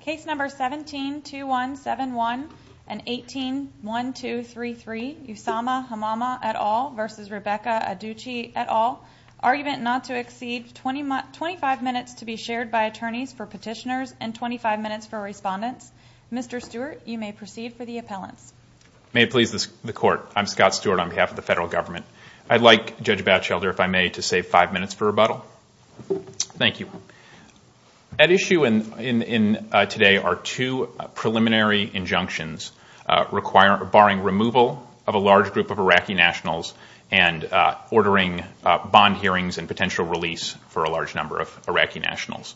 Case number 17-2171 and 18-1233, Usama Hamama et al. versus Rebecca Adducci et al. Argument not to exceed 25 minutes to be shared by attorneys for petitioners and 25 minutes for respondents. Mr. Stewart, you may proceed for the appellants. May it please the court. I'm Scott Stewart on behalf of the federal government. I'd like Judge Batchelder, if I may, to save five minutes for rebuttal. Thank you. At issue today are two preliminary injunctions barring removal of a large group of Iraqi nationals and ordering bond hearings and potential release for a large number of Iraqi nationals.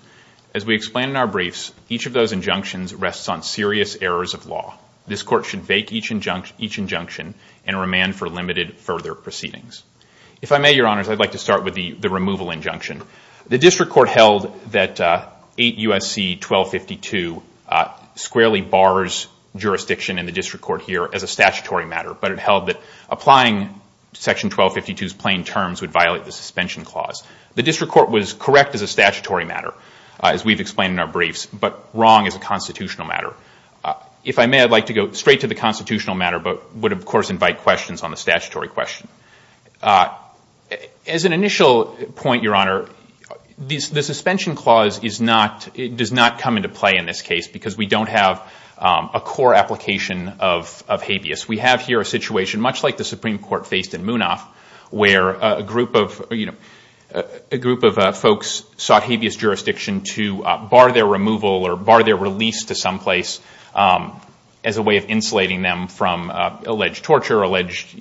As we explained in our briefs, each of those injunctions rests on serious errors of law. This court should fake each injunction and remand for limited further proceedings. If I may, Your Honors, I'd like to start with the removal injunction. The district court held that 8 U.S.C. 1252 squarely bars jurisdiction in the district court here as a statutory matter. But it held that applying Section 1252's plain terms would violate the suspension clause. The district court was correct as a statutory matter, as we've explained in our briefs, but wrong as a constitutional matter. If I may, I'd like to go straight to the constitutional matter, but would, of course, invite questions on the statutory question. As an initial point, Your Honor, the suspension clause does not come into play in this case because we don't have a core application of habeas. We have here a situation, much like the Supreme Court faced in Munaf, where a group of folks sought habeas jurisdiction to bar their removal or bar their release to someplace as a way of insulating them from alleged torture, alleged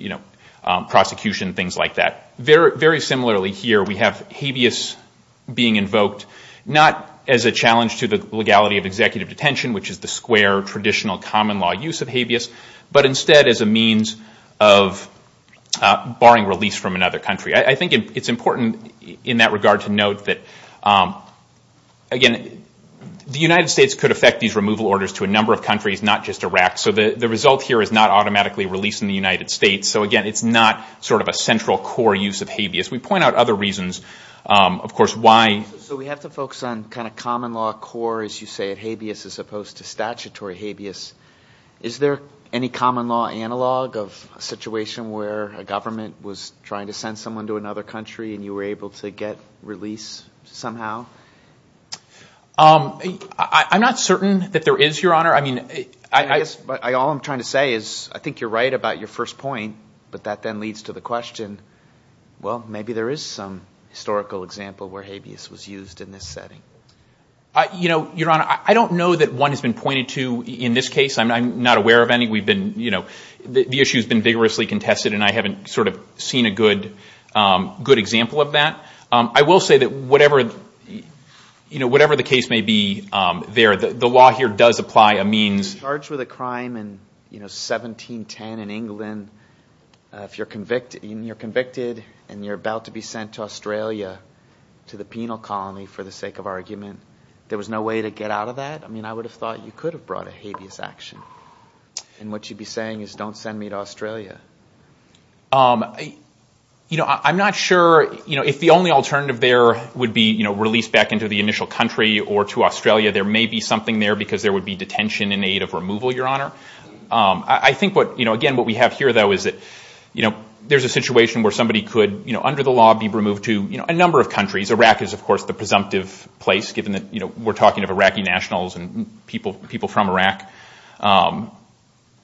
prosecution, things like that. Very similarly here, we have habeas being invoked not as a challenge to the legality of executive detention, which is the square, traditional, common law use of habeas, but instead as a means of barring release from another country. I think it's important in that regard to note that, again, the United States could affect these removal orders to a number of countries, not just Iraq. So the result here is not automatically release in the United States. So again, it's not sort of a central core use of habeas. We point out other reasons, of course, why. So we have to focus on kind of common law core, as you say, of habeas as opposed to statutory habeas. Is there any common law analog of a situation where a government was trying to send someone to another country and you were able to get release somehow? I'm not certain that there is, Your Honor. I mean, I guess all I'm trying to say is I think you're right about your first point, but that then leads to the question, well, maybe there is some historical example where habeas was used in this setting. You know, Your Honor, I don't know that one has been pointed to in this case. I'm not aware of any. We've been, you know, the issue has been vigorously contested, and I haven't sort of seen a good example of that. I will say that whatever the case may be there, the law here does apply a means. If you're charged with a crime in 1710 in England, if you're convicted and you're about to be sent to Australia to the penal colony for the sake of argument, there was no way to get out of that? I mean, I would have thought you could have brought a habeas action. And what you'd be saying is don't send me to Australia. You know, I'm not sure if the only alternative there would be released back into the initial country or to Australia. There may be something there because there is a possibility of removal, Your Honor. I think what, again, what we have here, though, is that there's a situation where somebody could, under the law, be removed to a number of countries. Iraq is, of course, the presumptive place, given that we're talking of Iraqi nationals and people from Iraq,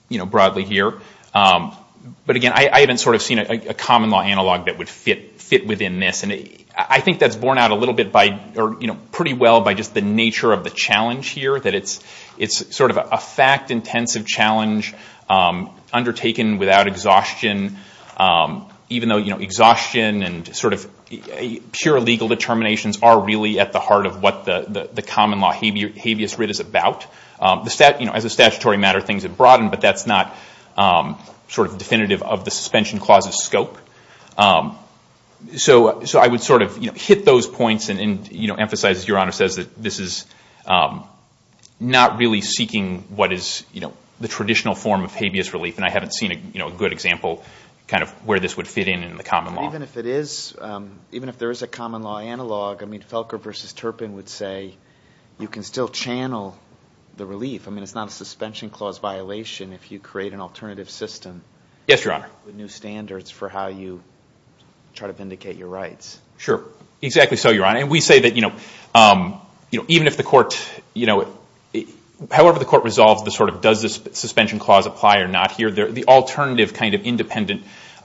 you know, broadly here. But again, I haven't sort of seen a common law analog that would fit within this. And I think that's borne out a little bit by, or pretty well by just the nature of the challenge here, that it's sort of a fact-intensive challenge undertaken without exhaustion, even though exhaustion and sort of pure legal determinations are really at the heart of what the common law habeas writ is about. As a statutory matter, things have broadened, but that's not sort of definitive of the suspension clause's scope. So I would sort of hit those points and emphasize, as Your Honor says, that this is not really seeking what is the traditional form of habeas relief. And I haven't seen a good example kind of where this would fit in in the common law. Even if there is a common law analog, I mean, Felker versus Turpin would say, you can still channel the relief. I mean, it's not a suspension clause violation if you create an alternative system with new standards for how you try to vindicate your rights. Sure. Exactly so, Your Honor. And we say that even if the court, however the court resolves the sort of does this suspension clause apply or not here, the alternative kind of independent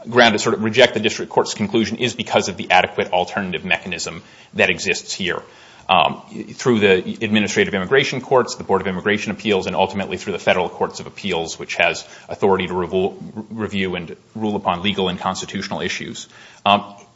ground to sort of reject the district court's conclusion is because of the adequate alternative mechanism that exists here. Through the Administrative Immigration Courts, the Board of Immigration Appeals, and ultimately through the Federal Courts of Appeals, which has authority to review and rule upon legal and constitutional issues.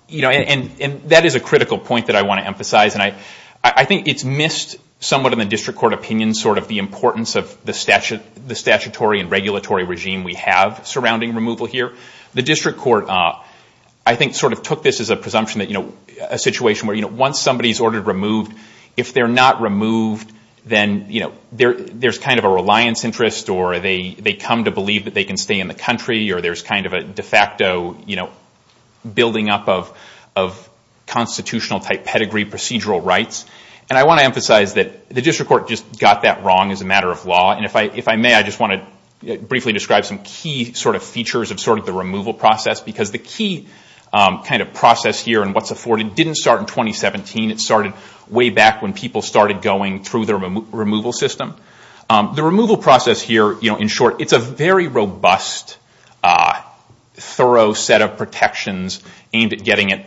You know, and that is a critical point that I want to emphasize. And I think it's missed somewhat in the district court opinion sort of the importance of the statutory and regulatory regime we have surrounding removal here. The district court, I think, sort of took this as a presumption that a situation where once somebody is ordered removed, if they're not removed, then there's kind of a reliance interest or they come to believe that they can stay in the country or there's kind of a de facto building up of constitutional type pedigree procedural rights. And I want to emphasize that the district court just got that wrong as a matter of law. And if I may, I just want to briefly describe some key sort of features of sort of the removal process. Because the key kind of process here and what's afforded didn't start in 2017. It started way back when people started going through the removal system. The removal process here, in short, it's a very robust, thorough set of protections aimed at getting at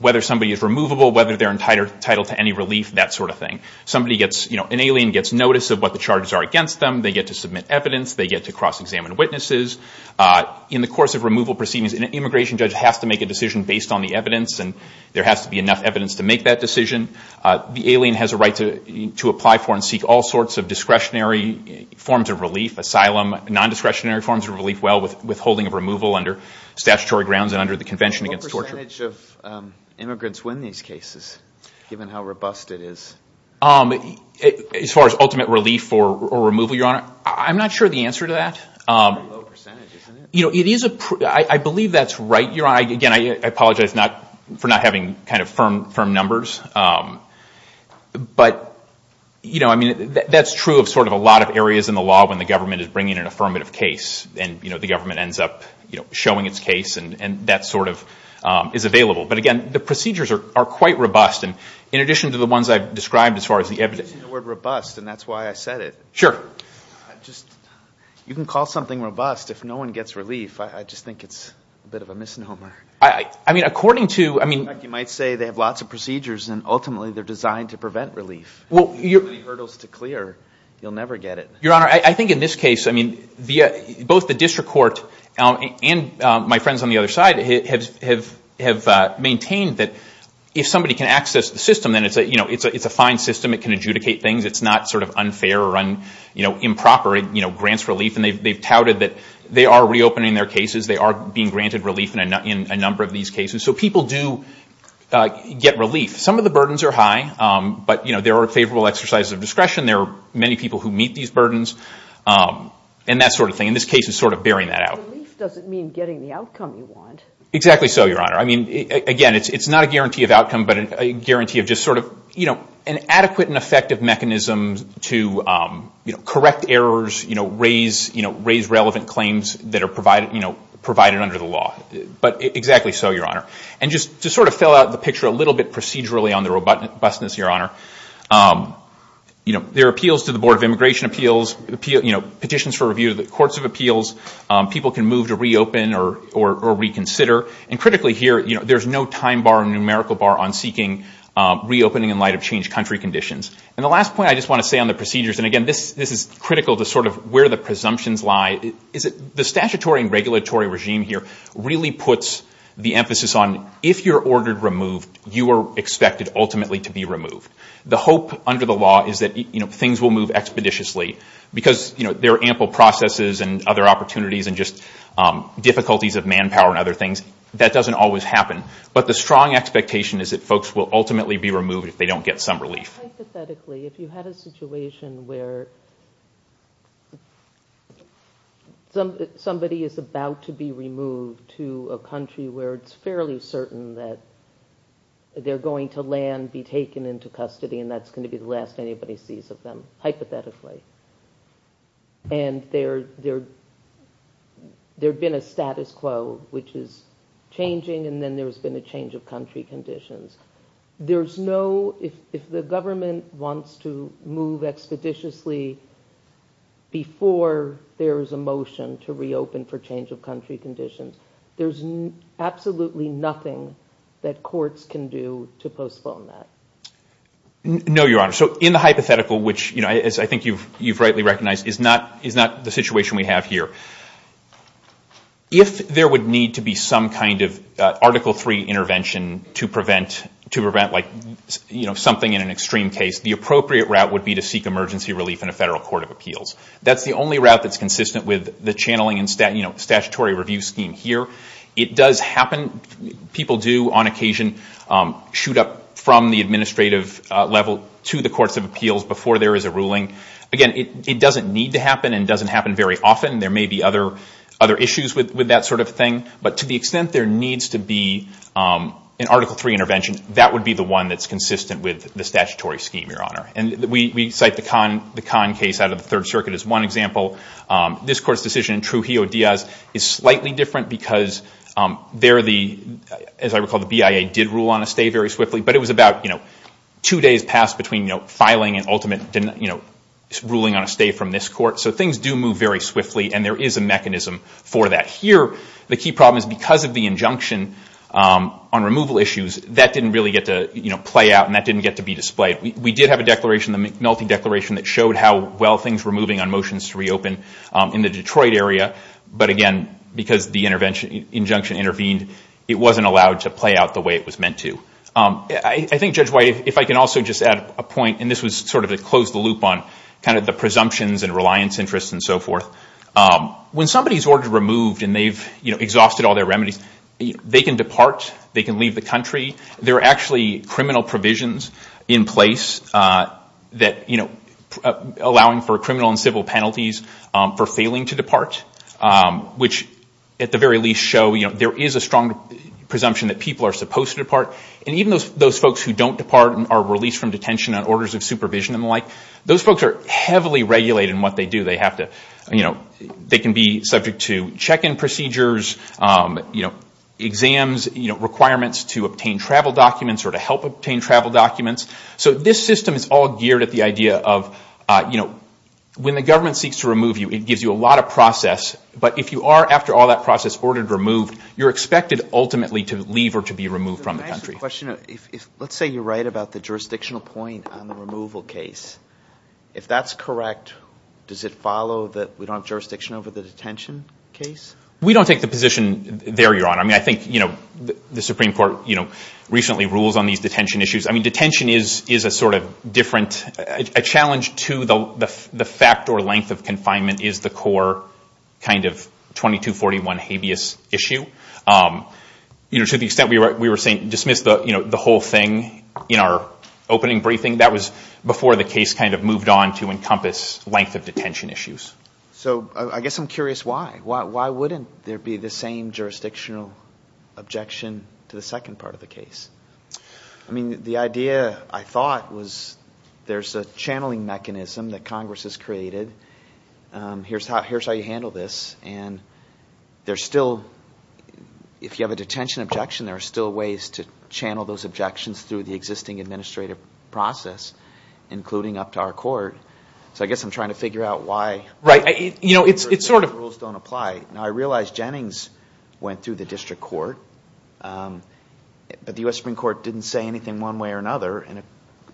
whether somebody is removable, whether they're entitled to any relief, that sort of thing. An alien gets notice of what the charges are against them. They get to submit evidence. They get to cross-examine witnesses. In the course of removal proceedings, an immigration judge has to make a decision based on the evidence. And there has to be enough evidence to make that decision. The alien has a right to apply for and seek all sorts of discretionary forms of relief, asylum, non-discretionary forms of relief, well withholding of removal under statutory grounds and under the Convention Against Torture. What percentage of immigrants win these cases, given how robust it is? As far as ultimate relief or removal, Your Honor, I'm not sure the answer to that. A low percentage, isn't it? I believe that's right, Your Honor. Again, I apologize for not having kind of firm numbers. But I mean, that's true of sort of a lot of areas in the law when the government is bringing an affirmative case and the government ends up showing its case and that sort of is available. But again, the procedures are quite robust. And in addition to the ones I've described, as far as the evidence. You mentioned the word robust, and that's why I said it. Sure. You can call something robust if no one gets relief. I just think it's a bit of a misnomer. I mean, according to, I mean. In fact, you might say they have lots of procedures and ultimately, they're designed to prevent relief. Well, you're. If you have any hurdles to clear, you'll never get it. Your Honor, I think in this case, I mean, both the district court and my friends on the other side have maintained that if somebody can access the system, then it's a fine system. It can adjudicate things. It's not sort of unfair or improper. It grants relief. And they've touted that they are reopening their cases. They are being granted relief in a number of these cases. So people do get relief. Some of the burdens are high. But there are favorable exercises of discretion. There are many people who meet these burdens and that sort of thing. And this case is sort of bearing that out. Relief doesn't mean getting the outcome you want. Exactly so, Your Honor. I mean, again, it's not a guarantee of outcome, but a guarantee of just sort of an adequate and effective mechanism to correct errors, raise relevant claims that are provided under the law. But exactly so, Your Honor. And just to sort of fill out the picture a little bit procedurally on the robustness, Your Honor, there are appeals to the Board of Immigration Appeals, petitions for review of the courts of appeals. People can move to reopen or reconsider. And critically here, there's no time bar or numerical bar on seeking reopening in light of changed country conditions. And the last point I just want to say on the procedures, and again, this is critical to sort of where the presumptions lie, is that the statutory and regulatory regime here really puts the emphasis on if you're ordered removed, you are expected ultimately to be removed. The hope under the law is that things will move expeditiously because there are ample processes and other opportunities and just difficulties of manpower and other things. That doesn't always happen. But the strong expectation is that folks will ultimately be removed if they don't get some relief. Hypothetically, if you had a situation where somebody is about to be removed to a country where it's fairly certain that they're going to land, be taken into custody, and that's going to be the last anybody sees of them, hypothetically, and there had been a status quo, which is changing, and then there's been a change of country conditions, there's no, if the government wants to move expeditiously before there is a motion to reopen for change of country conditions, there's absolutely nothing that courts can do to postpone that. No, Your Honor. So in the hypothetical, which, as I think you've rightly recognized, is not the situation we have here, if there would need to be some kind of Article III intervention to prevent something in an extreme case, the appropriate route would be to seek emergency relief in a federal court of appeals. That's the only route that's consistent with the channeling statutory review scheme here. It does happen. People do, on occasion, shoot up from the administrative level to the courts of appeals before there is a ruling. Again, it doesn't need to happen and doesn't happen very often. There may be other issues with that sort of thing, but to the extent there needs to be an Article III intervention, that would be the one that's consistent with the statutory scheme, Your Honor. And we cite the Kahn case out of the Third Circuit as one example. This court's decision in Trujillo-Diaz is slightly different because, as I recall, the BIA did rule on a stay very swiftly. But it was about two days past between filing and ultimate ruling on a stay from this court. So things do move very swiftly, and there is a mechanism for that. Here, the key problem is, because of the injunction on removal issues, that didn't really get to play out and that didn't get to be displayed. We did have a multi-declaration that showed how well things were moving on motions to reopen in the Detroit area. But again, because the injunction intervened, it wasn't allowed to play out the way it was meant to. I think, Judge White, if I can also just add a point, and this was sort of to close the loop on the presumptions and reliance interests and so forth. When somebody is ordered removed and they've exhausted all their remedies, they can depart. They can leave the country. There are actually criminal provisions in place allowing for criminal and civil penalties for failing to depart, which at the very least show there is a strong presumption that people are supposed to depart. And even those folks who don't depart and are released from detention on orders of supervision and the like, those folks are heavily regulated in what they do. They can be subject to check-in procedures, exams, requirements to obtain travel documents or to help obtain travel documents. So this system is all geared at the idea of when the government seeks to remove you, it gives you a lot of process. But if you are, after all that process, ordered removed, you're expected ultimately to leave or to be removed from the country. Can I ask a question? Let's say you're right about the jurisdictional point on the removal case. If that's correct, does it follow that we don't have jurisdiction over the detention case? We don't take the position there, Your Honor. I think the Supreme Court recently rules on these detention issues. Detention is a sort of different challenge to the fact or length of confinement is the core kind of 2241 habeas issue. To the extent we were saying dismiss the whole thing in our opening briefing, that was before the case kind of moved on to encompass length of detention issues. So I guess I'm curious why. Why wouldn't there be the same jurisdictional objection to the second part of the case? I mean, the idea, I thought, was there's a channeling mechanism that Congress has created. Here's how you handle this. And there's still, if you have a detention objection, there are still ways to channel those objections through the existing administrative process, including up to our court. So I guess I'm trying to figure out why. You know, it's sort of. Rules don't apply. Now, I realize Jennings went through the district court. But the US Supreme Court didn't say anything one way or another. And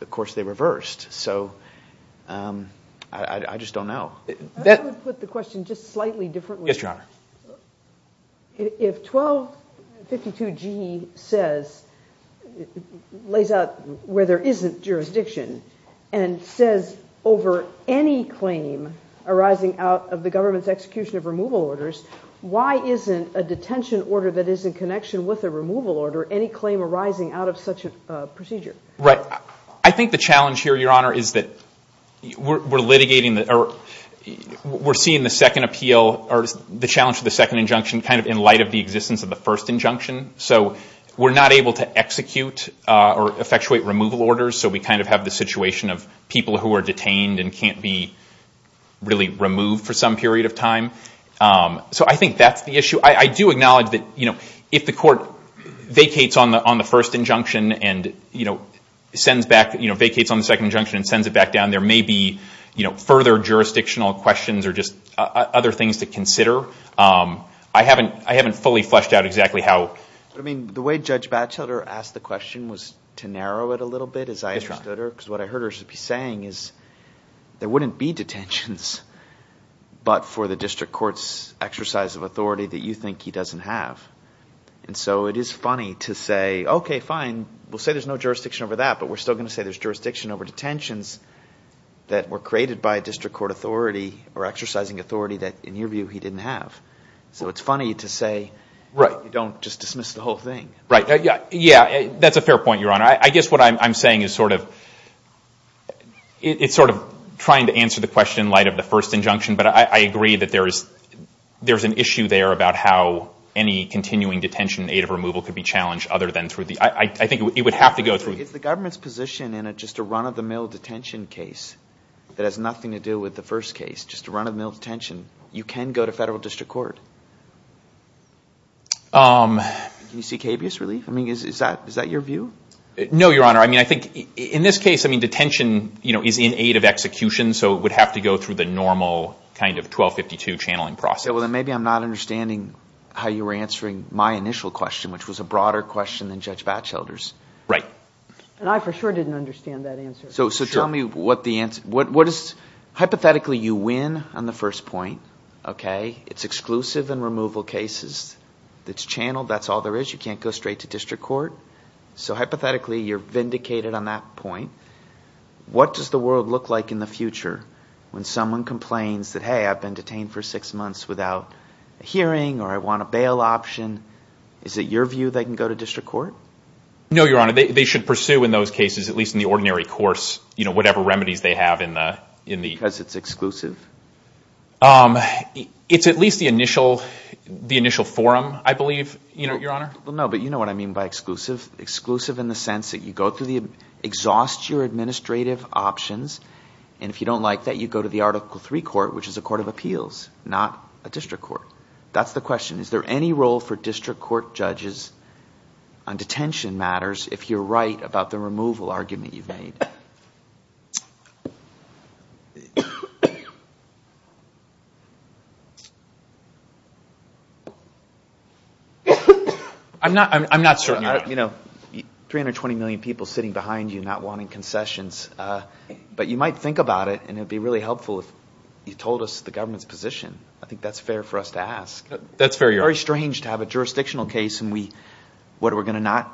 of course, they reversed. So I just don't know. I would put the question just slightly differently. Yes, Your Honor. If 1252G says, lays out where there isn't jurisdiction, and says over any claim arising out of the government's execution of removal orders, why isn't a detention order that is in connection with a removal order any claim arising out of such a procedure? Right. I think the challenge here, Your Honor, is that we're litigating the, or we're seeing the second appeal, or the challenge of the second injunction, kind of in light of the existence of the first injunction. So we're not able to execute or effectuate removal orders. So we kind of have the situation of people who are detained and can't be really removed for some period of time. So I think that's the issue. I do acknowledge that if the court vacates on the first injunction and sends back, vacates on the second injunction and sends it back down, there may be further jurisdictional questions or just other things to consider. I haven't fully fleshed out exactly how. I mean, the way Judge Batchelder asked the question was to narrow it a little bit. Because what I heard her be saying is there wouldn't be detentions but for the district court's exercise of authority that you think he doesn't have. And so it is funny to say, OK, fine. We'll say there's no jurisdiction over that, but we're still going to say there's jurisdiction over detentions that were created by a district court authority or exercising authority that, in your view, he didn't have. So it's funny to say you don't just dismiss the whole thing. Right. Yeah, that's a fair point, Your Honor. I guess what I'm saying is sort of trying to answer the question in light of the first injunction. But I agree that there's an issue there about how any continuing detention aid of removal could be challenged other than through the, I think it would have to go through. If the government's position in just a run of the mill detention case that has nothing to do with the first case, just a run of the mill detention, you can go to federal district court. Can you see cabious relief? Is that your view? No, Your Honor. In this case, detention is in aid of execution. So it would have to go through the normal kind of 1252 channeling process. Well, then maybe I'm not understanding how you were answering my initial question, which was a broader question than Judge Batchelder's. Right. And I for sure didn't understand that answer. So tell me what the answer is. Hypothetically, you win on the first point. It's exclusive in removal cases. It's channeled. That's all there is. You can't go straight to district court. So hypothetically, you're vindicated on that point. What does the world look like in the future when someone complains that, hey, I've been detained for six months without a hearing or I want a bail option? Is it your view they can go to district court? No, Your Honor. They should pursue in those cases, at least in the ordinary course, whatever remedies they have in the- Because it's exclusive? It's at least the initial forum, I believe, Your Honor. Well, no, but you know what I mean by exclusive. Exclusive in the sense that you exhaust your administrative options, and if you don't like that, you go to the Article III court, which is a court of appeals, not a district court. That's the question. Is there any role for district court judges on detention matters if you're right about the removal argument you've made? I'm not certain, Your Honor. You know, 320 million people sitting behind you not wanting concessions, but you might think about it, and it'd be really helpful if you told us the government's position. I think that's fair for us to ask. That's fair, Your Honor. It's very strange to have a jurisdictional case and we, what, we're going to not?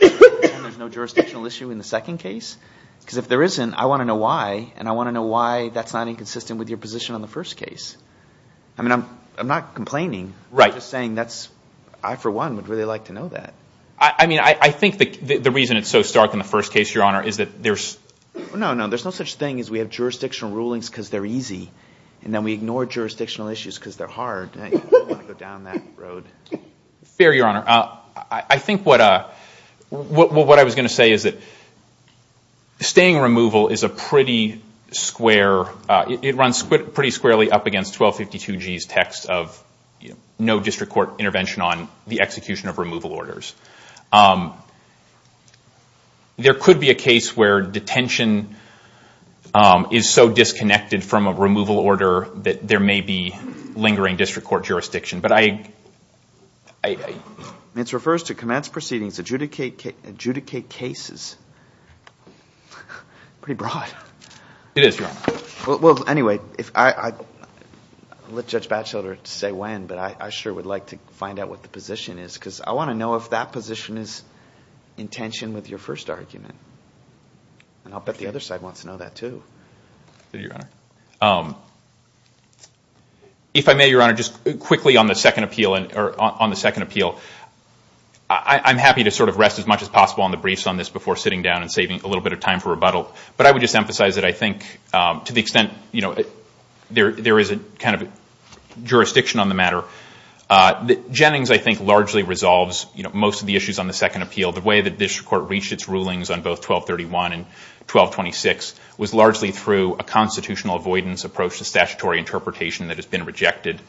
And there's no jurisdictional issue in the second case? Because if there isn't, I want to know why, and I want to know why that's not inconsistent with your position on the first case. I mean, I'm not complaining. Right. I'm just saying that's, I for one would really like to know that. I mean, I think that the reason it's so stark in the first case, Your Honor, is that there's. No, no, there's no such thing as we have jurisdictional rulings because they're easy, and then we ignore jurisdictional issues because they're hard. I don't want to go down that road. Fair, Your Honor. I think what I was going to say is that staying removal is a pretty square, it runs pretty squarely up against 1252G's text of no district court intervention on the execution of removal orders. There could be a case where detention is so disconnected from a removal order that there may be lingering district court jurisdiction, but I. It refers to commence proceedings, adjudicate cases. Pretty broad. It is, Your Honor. Well, anyway, I'll let Judge Batchelder say when, but I sure would like to find out what the position is, because I want to know if that position is in tension with your first argument. And I'll bet the other side wants to know that, too. Thank you, Your Honor. If I may, Your Honor, just quickly on the second appeal, I'm happy to sort of rest as much as possible on the briefs on this before sitting down and saving a little bit of time for rebuttal, but I would just emphasize that I think, to the extent there is a kind of jurisdiction on the matter, Jennings, I think, largely resolves most of the issues on the second appeal. The way that this court reached its rulings on both 1231 and 1226 was largely through a constitutional avoidance approach to statutory interpretation that has been rejected.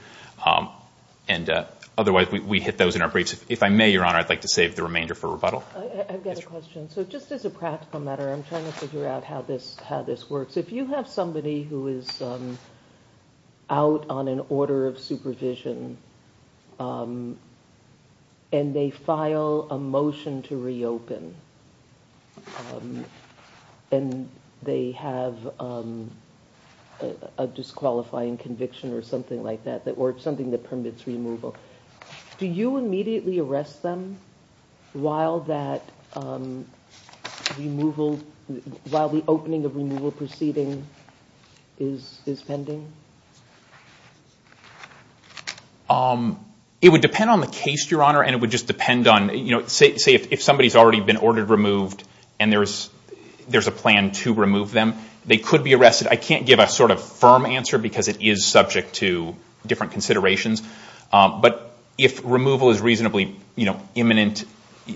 And otherwise, we hit those in our briefs. If I may, Your Honor, I'd like to save the remainder for rebuttal. I've got a question. So just as a practical matter, I'm trying to figure out how this works. If you have somebody who is out on an order of supervision, and they file a motion to reopen, and they have a disqualifying conviction or something like that, or something that permits removal, do you immediately arrest them while the opening of removal proceeding is pending? It would depend on the case, Your Honor. And it would just depend on, say, if somebody's already been ordered removed, and there's a plan to remove them, they could be arrested. I can't give a sort of firm answer, because it is subject to different considerations. But if removal is reasonably imminent,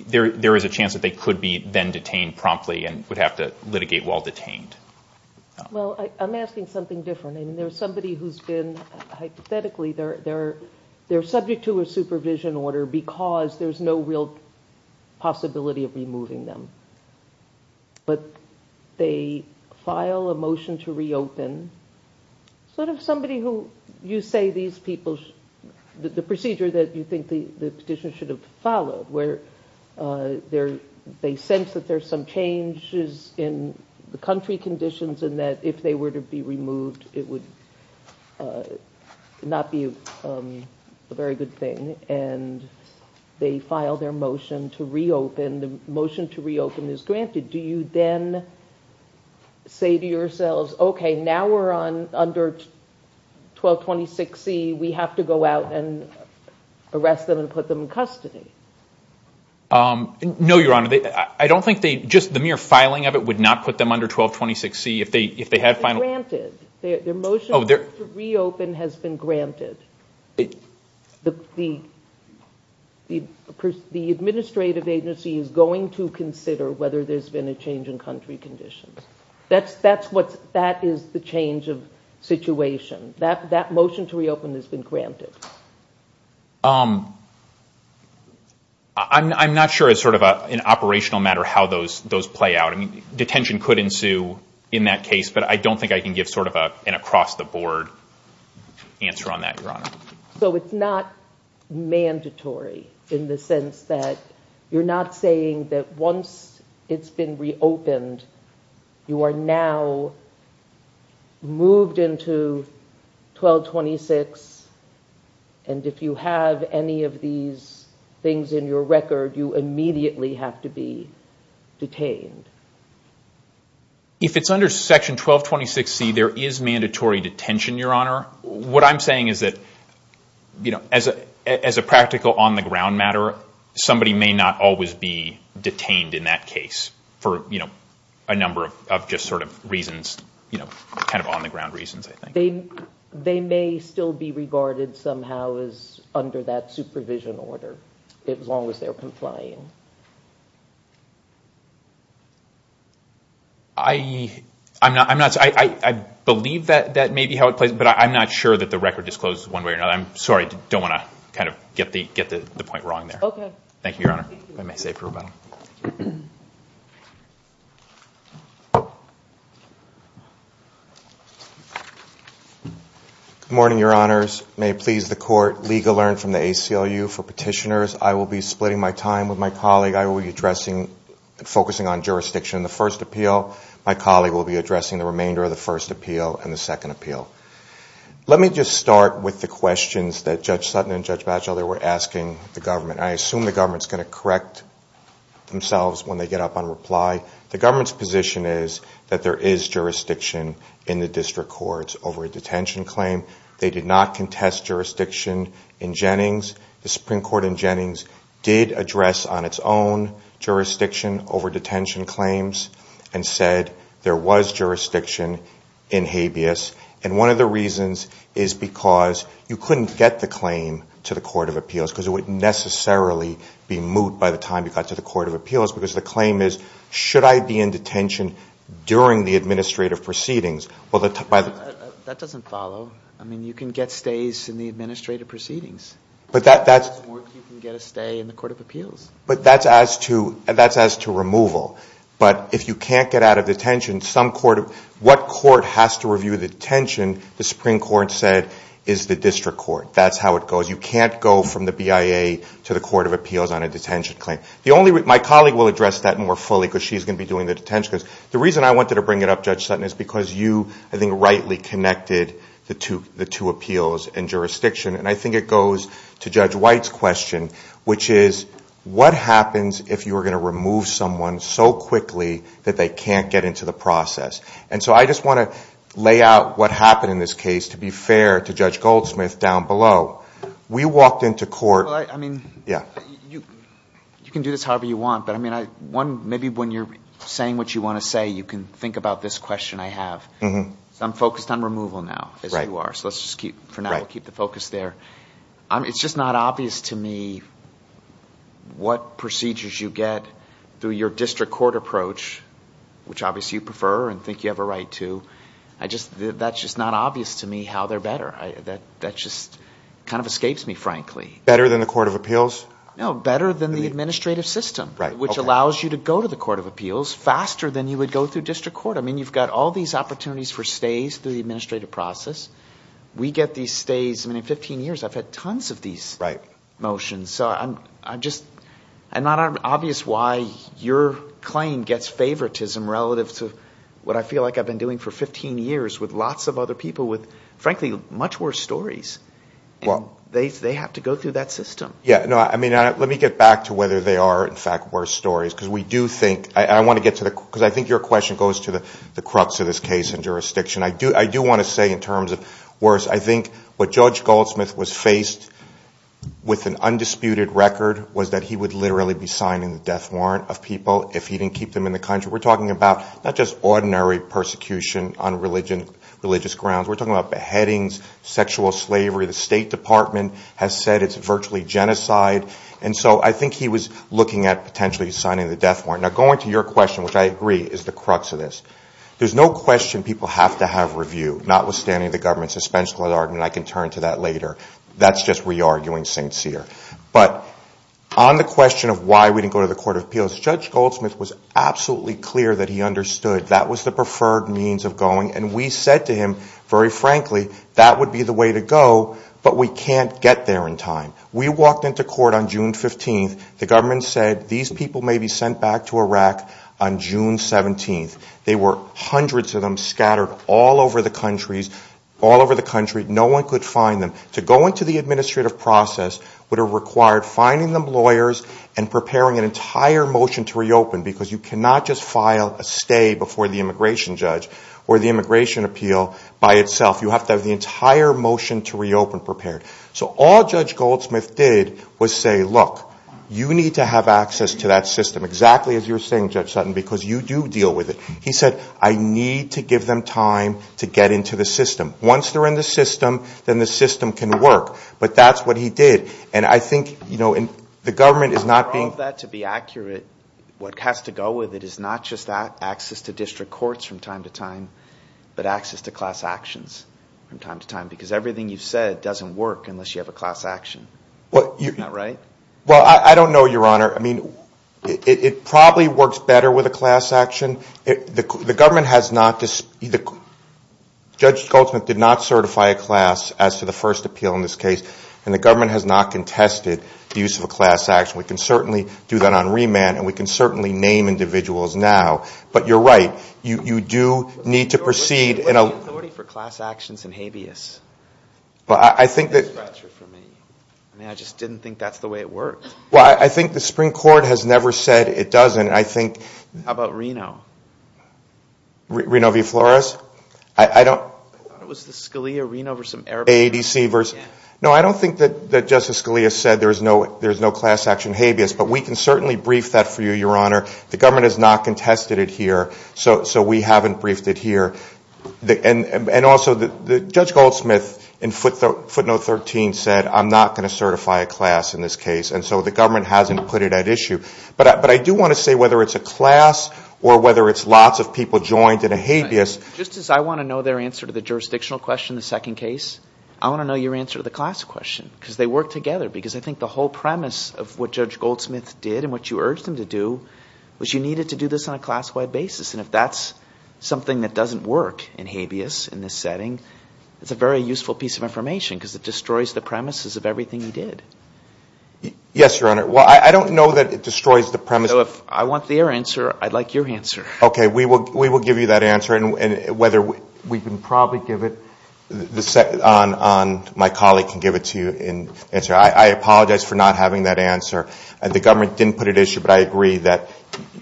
there is a chance that they could be then detained promptly and would have to litigate while detained. Well, I'm asking something different. I mean, there's somebody who's been, hypothetically, they're subject to a supervision order because there's no real possibility of removing them. But they file a motion to reopen, sort of somebody who you say these people, the procedure that you think the petitioners should have followed, where they sense that there's some changes in the country conditions, and that if they were to be removed, it would not be a very good thing. And they file their motion to reopen. The motion to reopen is granted. Do you then say to yourselves, OK, now we're under 1226C, we have to go out and arrest them and put them in custody? No, Your Honor. I don't think they, just the mere filing of it would not put them under 1226C. If they had finally. It's granted. Their motion to reopen has been granted. The administrative agency is going to consider whether there's been a change in country conditions. That is the change of situation. That motion to reopen has been granted. I'm not sure as sort of an operational matter how those play out. I mean, detention could ensue in that case. But I don't think I can give sort of an across the board answer on that, Your Honor. So it's not mandatory in the sense that you're not saying that once it's been reopened, you are now moved into 1226. And if you have any of these things in your record, you immediately have to be detained. If it's under section 1226C, there is mandatory detention, Your Honor. What I'm saying is that as a practical on the ground matter somebody may not always be detained in that case for a number of just sort of reasons, kind of on the ground reasons, I think. They may still be regarded somehow as under that supervision order, as long as they're complying. I believe that that may be how it plays. But I'm not sure that the record discloses one way or another. I'm sorry. Don't want to kind of get the point wrong there. OK. Thank you, Your Honor. If I may say for a moment. Good morning, Your Honors. May it please the court, legal learn from the ACLU for petitioners. I will be splitting my time with my colleague. I will be addressing and focusing on jurisdiction in the first appeal. My colleague will be addressing the remainder of the first appeal and the second appeal. Let me just start with the questions that Judge Sutton and Judge Bachelder were asking the government. I assume the government's going to correct themselves when they get up on reply. The government's position is that there is jurisdiction in the district courts over a detention claim. They did not contest jurisdiction in Jennings. The Supreme Court in Jennings did address on its own jurisdiction over detention claims and said there was jurisdiction in Habeas. And one of the reasons is because you couldn't get the claim to the Court of Appeals because it would necessarily be moot by the time you got to the Court of Appeals. Because the claim is, should I be in detention during the administrative proceedings? That doesn't follow. I mean, you can get stays in the administrative proceedings. But that's more if you can get a stay in the Court of Appeals. But that's as to removal. But if you can't get out of detention, what court has to review the detention, the Supreme Court said, is the district court. That's how it goes. You can't go from the BIA to the Court of Appeals on a detention claim. My colleague will address that more fully, because she's going to be doing the detention claims. The reason I wanted to bring it up, Judge Sutton, is because you, I think, rightly connected the two appeals and jurisdiction. And I think it goes to Judge White's question, which is, what happens if you are going to remove someone so quickly that they can't get into the process? And so I just want to lay out what happened in this case, to be fair to Judge Goldsmith down below. We walked into court. Well, I mean, you can do this however you want. But I mean, maybe when you're saying what you want to say, you can think about this question I have. I'm focused on removal now, as you are. So let's just keep, for now, keep the focus there. It's just not obvious to me what procedures you get through your district court approach, which obviously you prefer and think you have a right to. That's just not obvious to me how they're better. That just kind of escapes me, frankly. Better than the Court of Appeals? No, better than the administrative system, which allows you to go to the Court of Appeals faster than you would go through district court. I mean, you've got all these opportunities for stays through the administrative process. We get these stays. I mean, in 15 years, I've had tons of these motions. So I'm just not obvious why your claim gets favoritism relative to what I feel like I've been doing for 15 years with lots of other people with, frankly, much worse stories. They have to go through that system. Yeah, no, I mean, let me get back to whether they are, in fact, worse stories, because we do think, I want to get to the, because I think your question goes to the crux of this case in jurisdiction. I do want to say in terms of worse, I think what Judge Goldsmith was faced with an undisputed record was that he would literally be signing the death warrant of people if he didn't keep them in the country. We're talking about not just ordinary persecution on religious grounds. We're talking about beheadings, sexual slavery. The State Department has said it's virtually genocide. And so I think he was looking at potentially signing the death warrant. Now, going to your question, which I agree is the crux of this, there's no question people have to have review, notwithstanding the government's suspenseful argument. I can turn to that later. That's just re-arguing St. Cyr. But on the question of why we didn't go to the Court of That was the preferred means of going. And we said to him, very frankly, that would be the way to go, but we can't get there in time. We walked into court on June 15th. The government said these people may be sent back to Iraq on June 17th. There were hundreds of them scattered all over the country. No one could find them. To go into the administrative process would have required finding them lawyers and preparing an entire motion to reopen, because you cannot just file a stay before the immigration judge or the immigration appeal by itself. You have to have the entire motion to reopen prepared. So all Judge Goldsmith did was say, look, you need to have access to that system, exactly as you're saying, Judge Sutton, because you do deal with it. He said, I need to give them time to get into the system. Once they're in the system, then the system can work. But that's what he did. And I think the government is not being All of that, to be accurate, what has to go with it is not just that, access to district courts from time to time, but access to class actions from time to time, because everything you've said doesn't work unless you have a class action. Isn't that right? Well, I don't know, Your Honor. I mean, it probably works better with a class action. The government has not this. Judge Goldsmith did not certify a class as to the first appeal in this case, and the government has not contested the use of a class action. We can certainly do that on remand, and we can certainly name individuals now. But you're right. You do need to proceed in a What's the authority for class actions in habeas? Well, I think that That's a scratcher for me. I mean, I just didn't think that's the way it worked. Well, I think the Supreme Court has never said it doesn't. I think How about Reno? Reno v. Flores? I don't I thought it was the Scalia-Reno versus some AADC versus No, I don't think that Justice Scalia said there's no class action habeas, but we can certainly brief that for you, Your Honor. The government has not contested it here, so we haven't briefed it here. And also, Judge Goldsmith in footnote 13 said, I'm not going to certify a class in this case, and so the government hasn't put it at issue. But I do want to say whether it's a class or whether it's lots of people joined in a habeas. Justice, I want to know their answer to the jurisdictional question in the second case. I want to know your answer to the class question, because they work together, because I think the whole premise of what Judge Goldsmith did and what you urged him to do was you needed to do this on a class-wide basis. And if that's something that doesn't work in habeas in this setting, it's a very useful piece of information, because it destroys the premises of everything he did. Yes, Your Honor. Well, I don't know that it destroys the premise. So if I want their answer, I'd like your answer. Okay, we will give you that answer, and whether we can probably give it, my colleague can give it to you and answer. I apologize for not having that answer. The government didn't put it at issue, but I agree that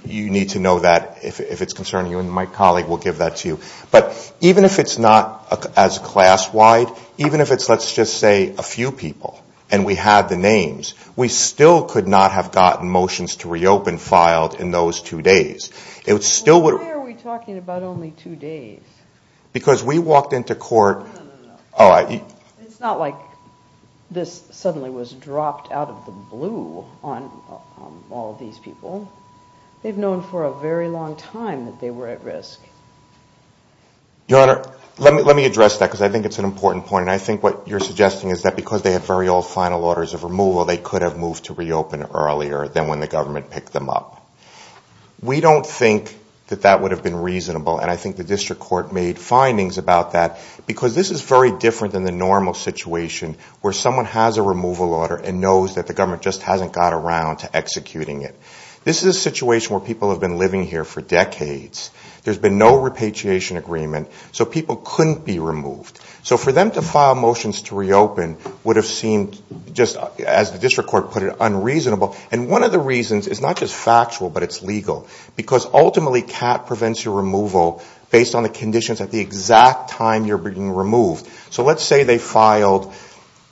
you need to know that if it's concerning you, and my colleague will give that to you. But even if it's not as class-wide, even if it's, let's just say, a few people, and we have the names, we still could not have gotten motions to reopen filed in those two days. It still would've... Why are we talking about only two days? Because we walked into court... No, no, no. Oh, I... It's not like this suddenly was dropped out of the blue on all of these people. They've known for a very long time that they were at risk. Your Honor, let me address that, because I think it's an important point. And I think what you're suggesting is that because they have very old final orders of removal, they could have moved to reopen earlier than when the government picked them up. We don't think that that would've been reasonable, and I think the district court made findings about that, because this is very different than the normal situation where someone has a removal order and knows that the government just hasn't got around to executing it. This is a situation where people have been living here for decades. There's been no repatriation agreement, so people couldn't be removed. So for them to file motions to reopen would've seemed, just as the district court put it, unreasonable, and one of the reasons is not just factual, but it's legal, because ultimately, CAT prevents your removal based on the conditions at the exact time you're being removed. So let's say they filed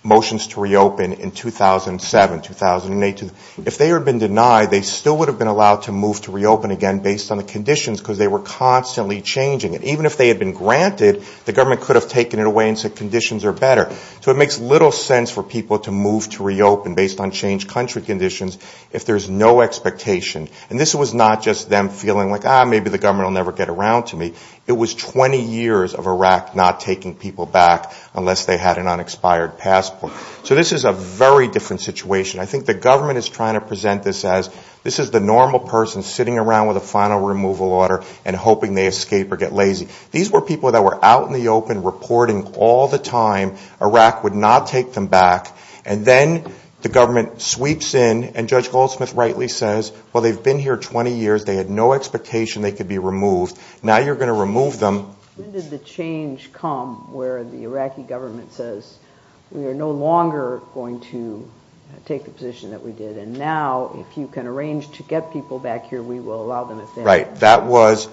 motions to reopen in 2007, 2018. If they had been denied, they still would've been allowed to move to reopen again based on the conditions, because they were constantly changing it. Even if they had been granted, the government could've taken it away and said conditions are better. So it makes little sense for people to move to reopen based on changed country conditions if there's no expectation. And this was not just them feeling like, ah, maybe the government will never get around to me. It was 20 years of Iraq not taking people back unless they had an unexpired passport. So this is a very different situation. I think the government is trying to present this as, this is the normal person sitting around with a final removal order and hoping they escape or get lazy. These were people that were out in the open reporting all the time. Iraq would not take them back. And then the government sweeps in, and Judge Goldsmith rightly says, well, they've been here 20 years. They had no expectation they could be removed. Now you're gonna remove them. When did the change come where the Iraqi government says, we are no longer going to take the position that we did. And now if you can arrange to get people back here, we will allow them if they have to. Right, that was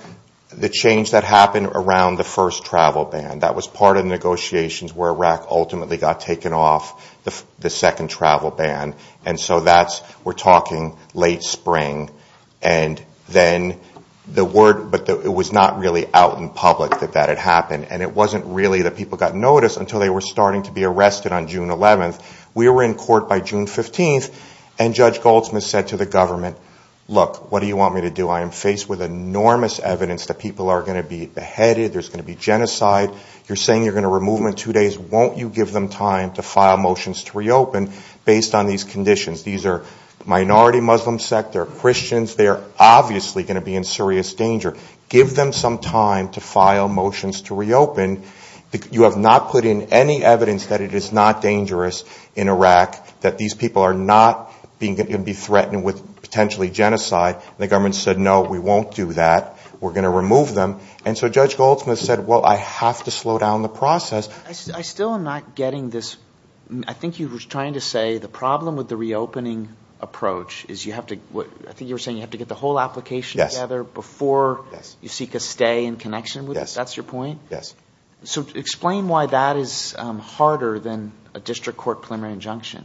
the change that happened around the first travel ban. That was part of the negotiations where Iraq ultimately got taken off the second travel ban. And so that's, we're talking late spring. And then the word, but it was not really out in public that that had happened. And it wasn't really that people got noticed until they were starting to be arrested on June 11th. We were in court by June 15th, and Judge Goldsmith said to the government, look, what do you want me to do? I am faced with enormous evidence that people are gonna be beheaded. There's gonna be genocide. You're saying you're gonna remove them in two days. Won't you give them time to file motions to reopen based on these conditions? These are minority Muslim sect, they're Christians. They're obviously gonna be in serious danger. Give them some time to file motions to reopen. You have not put in any evidence that it is not dangerous in Iraq, that these people are not gonna be threatened with potentially genocide. The government said, no, we won't do that. We're gonna remove them. And so Judge Goldsmith said, well, I have to slow down the process. I still am not getting this. I think you were trying to say the problem with the reopening approach is you have to, I think you were saying you have to get the whole application together before you seek a stay in connection with it. That's your point? Yes. So explain why that is harder than a district court preliminary injunction.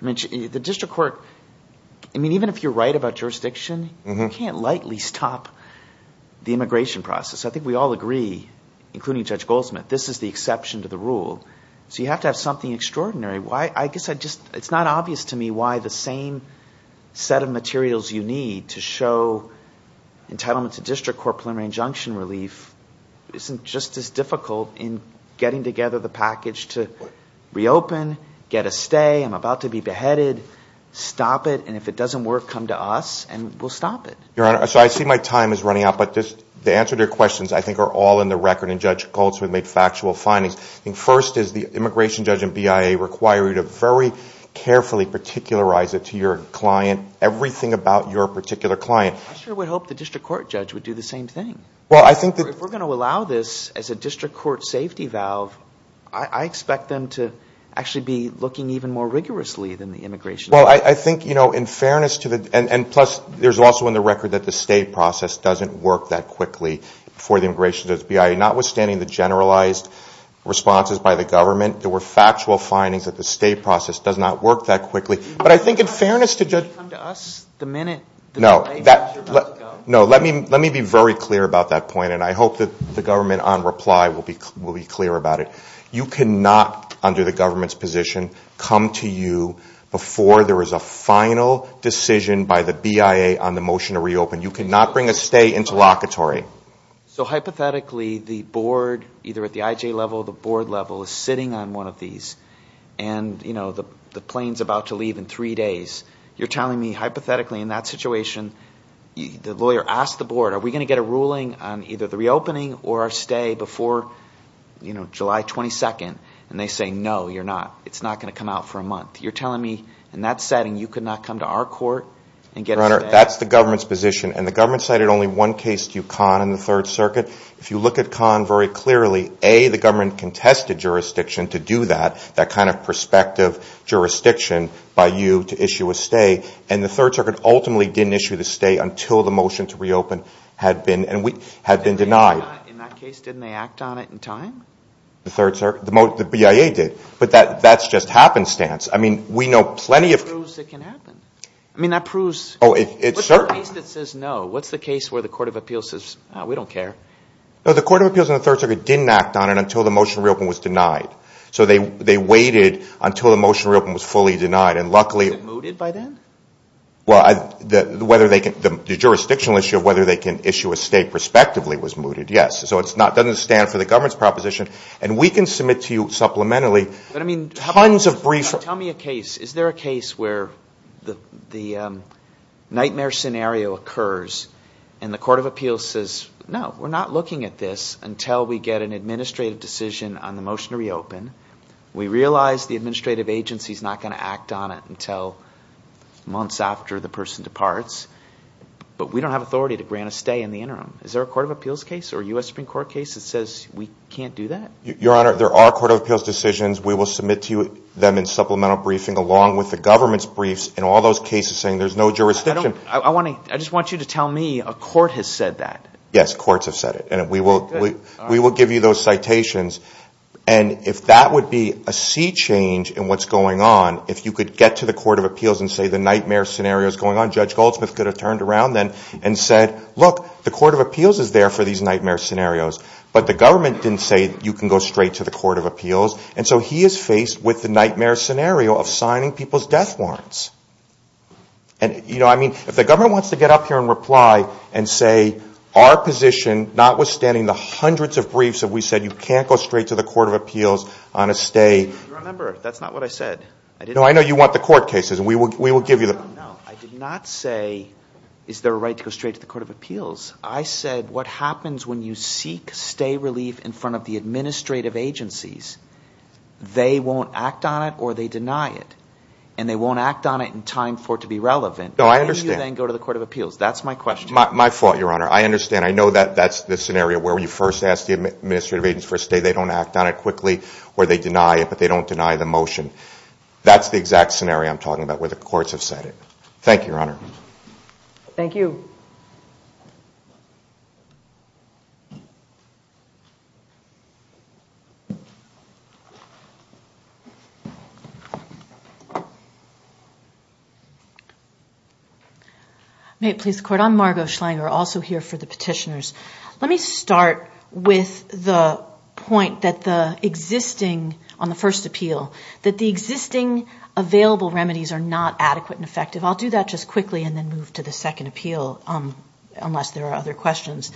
I mean, the district court, I mean, even if you're right about jurisdiction, you can't lightly stop the immigration process. I think we all agree, including Judge Goldsmith, this is the exception to the rule. So you have to have something extraordinary. Why, I guess I just, it's not obvious to me why the same set of materials you need to show entitlement to district court preliminary injunction relief isn't just as difficult in getting together the package to reopen, get a stay, I'm about to be beheaded, stop it, and if it doesn't work, come to us and we'll stop it. Your Honor, so I see my time is running out, but the answer to your questions, I think are all in the record and Judge Goldsmith made factual findings. I think first is the immigration judge and BIA require you to very carefully particularize it to your client, everything about your particular client. I sure would hope the district court judge would do the same thing. Well, I think that- If we're gonna allow this as a district court safety valve, I expect them to actually be looking even more rigorously than the immigration judge. Well, I think, you know, in fairness to the, and plus there's also in the record that the state process doesn't work that quickly for the immigration judge, BIA, notwithstanding the generalized responses by the government, there were factual findings that the state process does not work that quickly, but I think in fairness to judge- Can you come to us the minute- No, let me be very clear about that point and I hope that the government on reply will be clear about it. You cannot, under the government's position, come to you before there is a final decision by the BIA on the motion to reopen. You cannot bring a stay into locatory. So hypothetically, the board, either at the IJ level, the board level is sitting on one of these and, you know, the plane's about to leave in three days. You're telling me hypothetically in that situation, the lawyer asked the board, are we gonna get a ruling on either the reopening or our stay before, you know, July 22nd? And they say, no, you're not. It's not gonna come out for a month. You're telling me in that setting, you could not come to our court and get- Your Honor, that's the government's position and the government cited only one case to you, Khan, in the third circuit. If you look at Khan very clearly, A, the government contested jurisdiction to do that, that kind of prospective jurisdiction by you to issue a stay, and the third circuit ultimately didn't issue the stay until the motion to reopen had been denied. In that case, didn't they act on it in time? The third circuit? The BIA did, but that's just happenstance. I mean, we know plenty of- That proves it can happen. I mean, that proves- Oh, it's certain- What's the case that says no? What's the case where the court of appeals says, ah, we don't care? No, the court of appeals and the third circuit didn't act on it until the motion to reopen was denied. So they waited until the motion to reopen was fully denied, and luckily- Was it mooted by then? Well, the jurisdictional issue of whether they can issue a stay prospectively was mooted, yes, so it's not, doesn't stand for the government's proposition, and we can submit to you supplementarily- But I mean- Tons of brief- Tell me a case. Is there a case where the nightmare scenario occurs and the court of appeals says, no, we're not looking at this until we get an administrative decision on the motion to reopen. We realize the administrative agency's not gonna act on it until months after the person departs, but we don't have authority to grant a stay in the interim. Is there a court of appeals case or a U.S. Supreme Court case that says we can't do that? Your Honor, there are court of appeals decisions. We will submit to you them in supplemental briefing along with the government's briefs and all those cases saying there's no jurisdiction. I just want you to tell me a court has said that. Yes, courts have said it, and we will give you those citations, and if that would be a sea change in what's going on, if you could get to the court of appeals and say the nightmare scenario's going on, Judge Goldsmith could have turned around then and said, look, the court of appeals is there for these nightmare scenarios, but the government didn't say you can go straight to the court of appeals, and so he is faced with the nightmare scenario of signing people's death warrants. And, you know, I mean, if the government wants to get up here and reply and say our position, notwithstanding the hundreds of briefs that we said you can't go straight to the court of appeals on a stay. Your Honor, that's not what I said. No, I know you want the court cases, and we will give you them. No, I did not say is there a right to go straight to the court of appeals. I said what happens when you seek stay relief in front of the administrative agencies? They won't act on it or they deny it, and they won't act on it in time for it to be relevant. No, I understand. Can you then go to the court of appeals? That's my question. My fault, Your Honor. I understand. I know that that's the scenario where you first ask the administrative agents for a stay. They don't act on it quickly or they deny it, but they don't deny the motion. That's the exact scenario I'm talking about where the courts have said it. Thank you, Your Honor. Thank you. Thank you. May it please the court? I'm Margo Schlanger, also here for the petitioners. Let me start with the point that the existing on the first appeal, that the existing available remedies are not adequate and effective. I'll do that just quickly and then move to the second appeal unless there are other questions.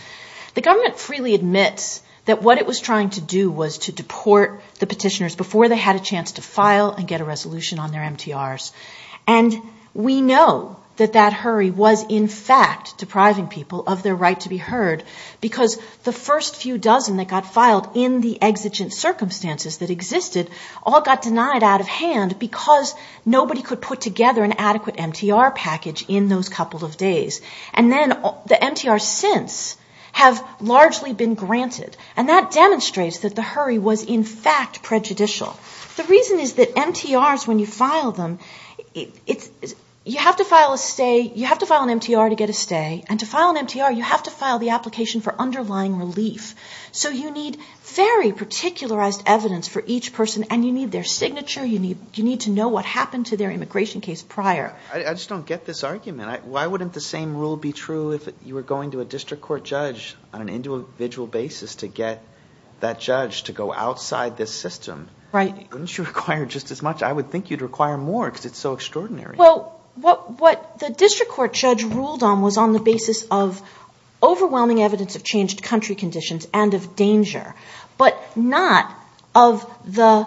The government freely admits that what it was trying to do was to deport the petitioners before they had a chance to file and get a resolution on their MTRs. And we know that that hurry was in fact depriving people of their right to be heard because the first few dozen that got filed in the exigent circumstances that existed all got denied out of hand because nobody could put together an adequate MTR package in those couple of days. And then the MTRs since have largely been granted. And that demonstrates that the hurry was in fact prejudicial. The reason is that MTRs when you file them, you have to file a stay, you have to file an MTR to get a stay and to file an MTR, you have to file the application for underlying relief. So you need very particularized evidence for each person and you need their signature, you need to know what happened to their immigration case prior. I just don't get this argument. Why wouldn't the same rule be true if you were going to a district court judge on an individual basis to get that judge to go outside this system? Right. Wouldn't you require just as much? I would think you'd require more because it's so extraordinary. Well, what the district court judge ruled on was on the basis of overwhelming evidence of changed country conditions and of danger, but not of the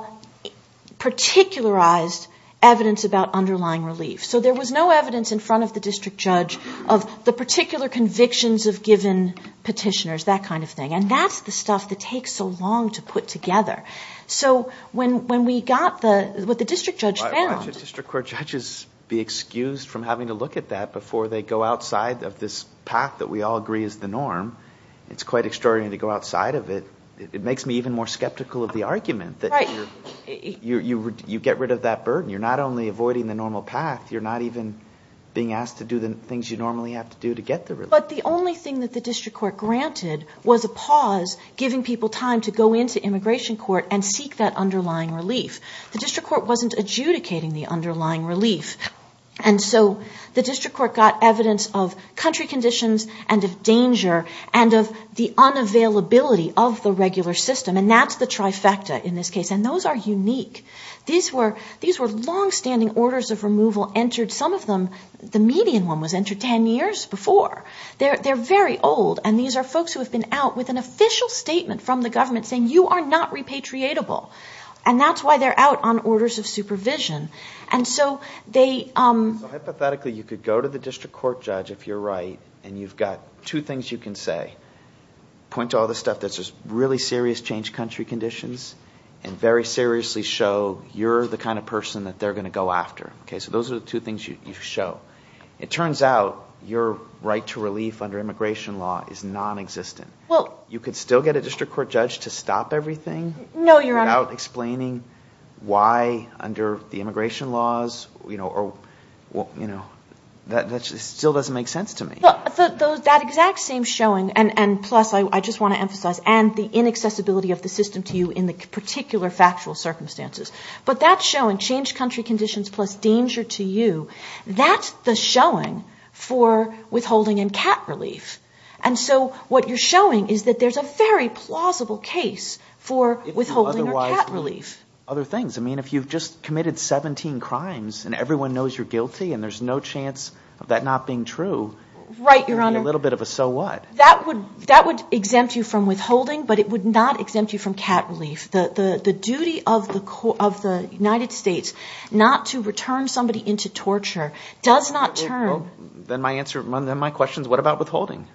particularized evidence about underlying relief. So there was no evidence in front of the district judge of the particular convictions of given petitioners, that kind of thing. And that's the stuff that takes so long to put together. So when we got what the district judge found. District court judges be excused from having to look at that before they go outside of this path that we all agree is the norm. It's quite extraordinary to go outside of it. It makes me even more skeptical of the argument that you get rid of that burden. You're not only avoiding the normal path, you're not even being asked to do the things you normally have to do to get the relief. But the only thing that the district court granted was a pause, giving people time to go into immigration court and seek that underlying relief. The district court wasn't adjudicating the underlying relief. And so the district court got evidence of country conditions and of danger and of the unavailability of the regular system. And that's the trifecta in this case. And those are unique. These were longstanding orders of removal entered. Some of them, the median one was entered 10 years before. They're very old. And these are folks who have been out with an official statement from the government saying you are not repatriatable. And that's why they're out on orders of supervision. And so they- Hypothetically, you could go to the district court judge if you're right, and you've got two things you can say. Point to all the stuff that's just really serious change country conditions and very seriously show you're the kind of person that they're gonna go after. Okay, so those are the two things you show. It turns out your right to relief under immigration law is non-existent. You could still get a district court judge to stop everything- No, Your Honor. Without explaining why under the immigration laws, that still doesn't make sense to me. That exact same showing, and plus, I just wanna emphasize, and the inaccessibility of the system to you in the particular factual circumstances. But that showing, change country conditions plus danger to you, that's the showing for withholding and cat relief. And so what you're showing is that there's a very plausible case for withholding or cat relief. Other things. I mean, if you've just committed 17 crimes and everyone knows you're guilty and there's no chance of that not being true. Right, Your Honor. A little bit of a so what. That would exempt you from withholding, but it would not exempt you from cat relief. The duty of the United States not to return somebody into torture does not turn- Then my answer, then my question's what about withholding?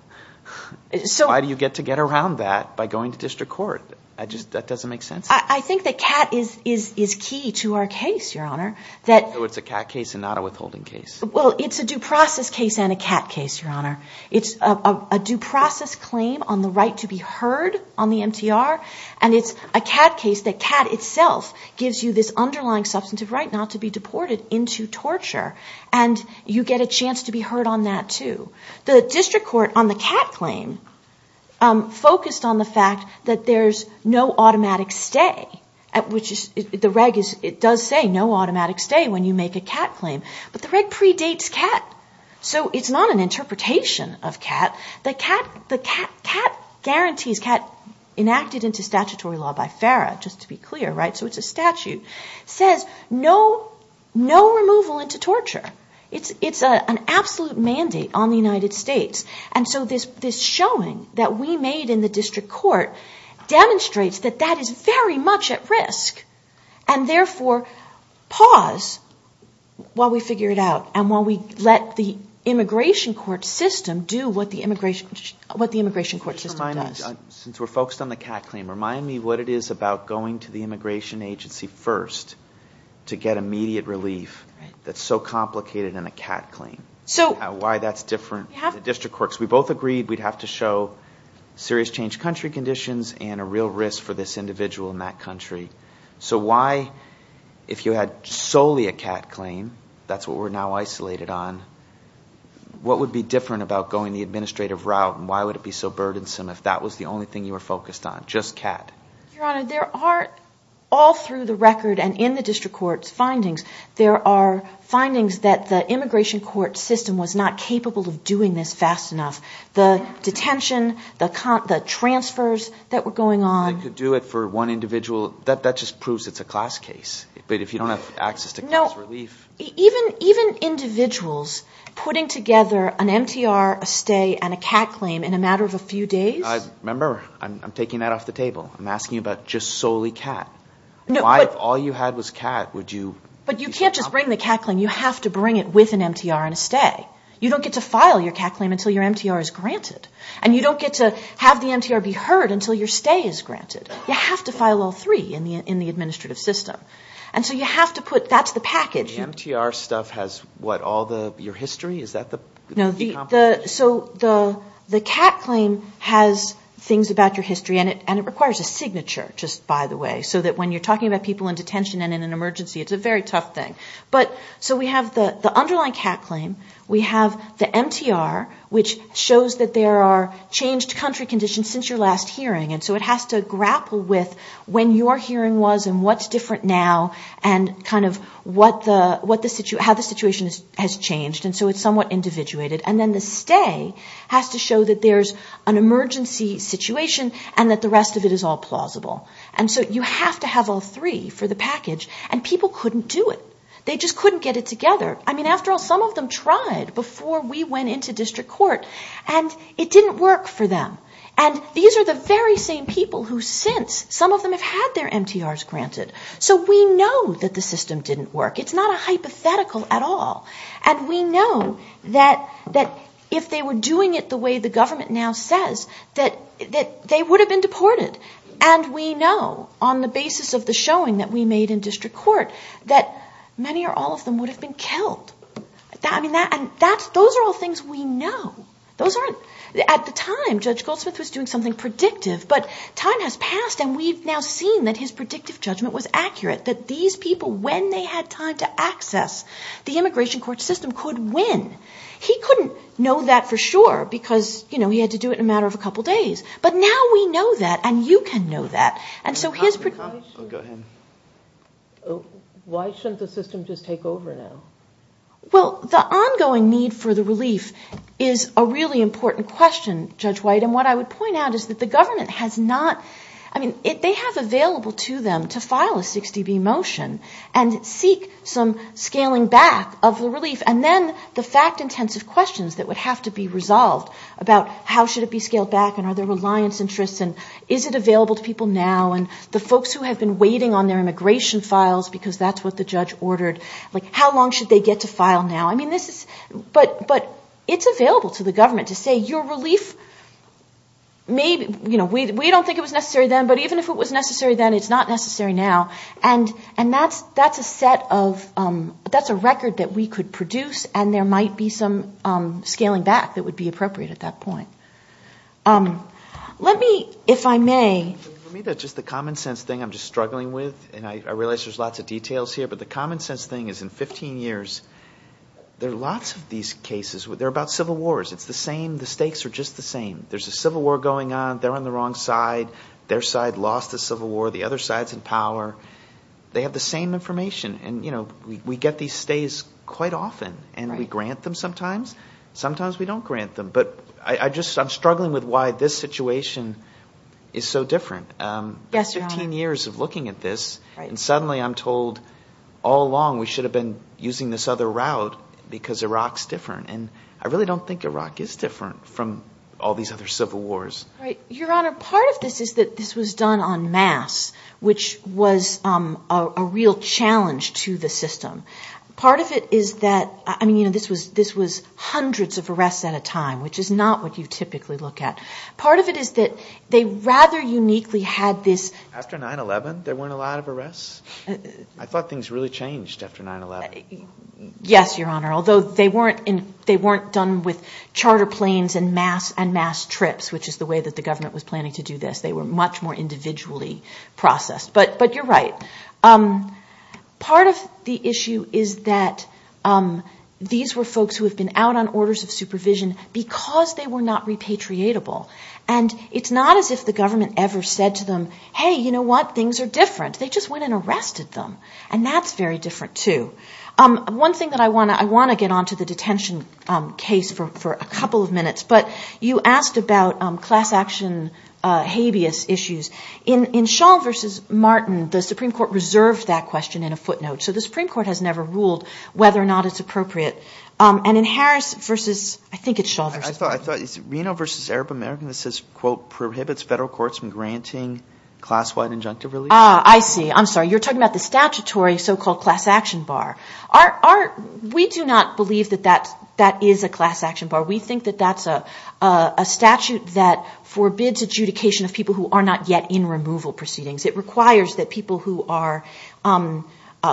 Why do you get to get around that by going to district court? That doesn't make sense. I think that cat is key to our case, Your Honor. So it's a cat case and not a withholding case. Well, it's a due process case and a cat case, Your Honor. It's a due process claim on the right to be heard on the MTR. And it's a cat case that cat itself gives you this underlying substantive right not to be deported into torture. And you get a chance to be heard on that too. The district court on the cat claim focused on the fact that there's no automatic stay at which the reg does say no automatic stay when you make a cat claim. But the reg predates cat. So it's not an interpretation of cat. The cat guarantees, cat enacted into statutory law by FARA, just to be clear, right? So it's a statute. Says no removal into torture. It's an absolute mandate on the United States. And so this showing that we made in the district court demonstrates that that is very much at risk. And therefore, pause while we figure it out. And while we let the immigration court system do what the immigration court system does. Since we're focused on the cat claim, remind me what it is about going to the immigration agency first to get immediate relief that's so complicated in a cat claim. So why that's different for the district courts. We both agreed we'd have to show serious change country conditions and a real risk for this individual in that country. So why, if you had solely a cat claim, that's what we're now isolated on, what would be different about going the administrative route? And why would it be so burdensome if that was the only thing you were focused on? Just cat. Your Honor, there are all through the record and in the district court's findings, there are findings that the immigration court system was not capable of doing this fast enough. The detention, the transfers that were going on. They could do it for one individual. That just proves it's a class case. But if you don't have access to class relief. Even individuals putting together an MTR, a stay, and a cat claim in a matter of a few days. Remember, I'm taking that off the table. I'm asking about just solely cat. Why, if all you had was cat, would you? But you can't just bring the cat claim. You have to bring it with an MTR and a stay. You don't get to file your cat claim until your MTR is granted. And you don't get to have the MTR be heard until your stay is granted. You have to file all three in the administrative system. And so you have to put, that's the package. So the MTR stuff has what, all your history? Is that the compensation? So the cat claim has things about your history. And it requires a signature, just by the way. So that when you're talking about people in detention and in an emergency, it's a very tough thing. But so we have the underlying cat claim. We have the MTR, which shows that there are changed country conditions since your last hearing. And so it has to grapple with when your hearing was and what's different now. And kind of how the situation has changed. And so it's somewhat individuated. And then the stay has to show that there's an emergency situation and that the rest of it is all plausible. And so you have to have all three for the package. And people couldn't do it. They just couldn't get it together. I mean, after all, some of them tried before we went into district court. And it didn't work for them. And these are the very same people who since, some of them have had their MTRs granted. So we know that the system didn't work. It's not a hypothetical at all. And we know that if they were doing it the way the government now says, that they would have been deported. And we know on the basis of the showing that we made in district court, that many or all of them would have been killed. I mean, those are all things we know. Those aren't, at the time, Judge Goldsmith was doing something predictive, but time has passed and we've now seen that his predictive judgment was accurate. That these people, when they had time to access the immigration court system, could win. He couldn't know that for sure, because he had to do it in a matter of a couple days. But now we know that, and you can know that. And so his prediction- Oh, go ahead. Why shouldn't the system just take over now? Well, the ongoing need for the relief is a really important question, Judge White. And what I would point out is that the government has not, I mean, they have available to them to file a 60B motion and seek some scaling back of the relief. And then the fact-intensive questions that would have to be resolved about how should it be scaled back and are there reliance interests and is it available to people now? And the folks who have been waiting on their immigration files, because that's what the judge ordered. Like, how long should they get to file now? I mean, this is, but it's available to the government to say, your relief may, you know, we don't think it was necessary then, but even if it was necessary then, it's not necessary now. And that's a set of, that's a record that we could produce and there might be some scaling back that would be appropriate at that point. Let me, if I may- For me, that's just the common sense thing I'm just struggling with. And I realize there's lots of details here, but the common sense thing is in 15 years, there are lots of these cases, they're about civil wars. It's the same, the stakes are just the same. There's a civil war going on. They're on the wrong side. Their side lost the civil war. The other side's in power. They have the same information. And, you know, we get these stays quite often and we grant them sometimes. Sometimes we don't grant them, but I just, I'm struggling with why this situation is so different. Yes, Your Honor. 15 years of looking at this and suddenly I'm told all along we should have been using this other route because Iraq's different. And I really don't think Iraq is different from all these other civil wars. Right, Your Honor. Part of this is that this was done en masse, which was a real challenge to the system. Part of it is that, I mean, you know, this was hundreds of arrests at a time, which is not what you typically look at. Part of it is that they rather uniquely had this- After 9-11, there weren't a lot of arrests. I thought things really changed after 9-11. Yes, Your Honor. Although they weren't done with charter planes and mass trips, which is the way that the government was planning to do this. They were much more individually processed. But you're right. Part of the issue is that these were folks who have been out on orders of supervision because they were not repatriatable. And it's not as if the government ever said to them, hey, you know what? Things are different. They just went and arrested them. And that's very different too. One thing that I wanna get onto the detention case for a couple of minutes, but you asked about class action habeas issues. In Shaw versus Martin, the Supreme Court reserved that question in a footnote. So the Supreme Court has never ruled whether or not it's appropriate. And in Harris versus, I think it's Shaw versus- I thought it's Reno versus Arab American. This says, quote, prohibits federal courts from granting class-wide injunctive relief. Ah, I see. I'm sorry. You're talking about the statutory so-called class action bar. We do not believe that that is a class action bar. We think that that's a statute that forbids adjudication of people who are not yet in removal proceedings. It requires that people who are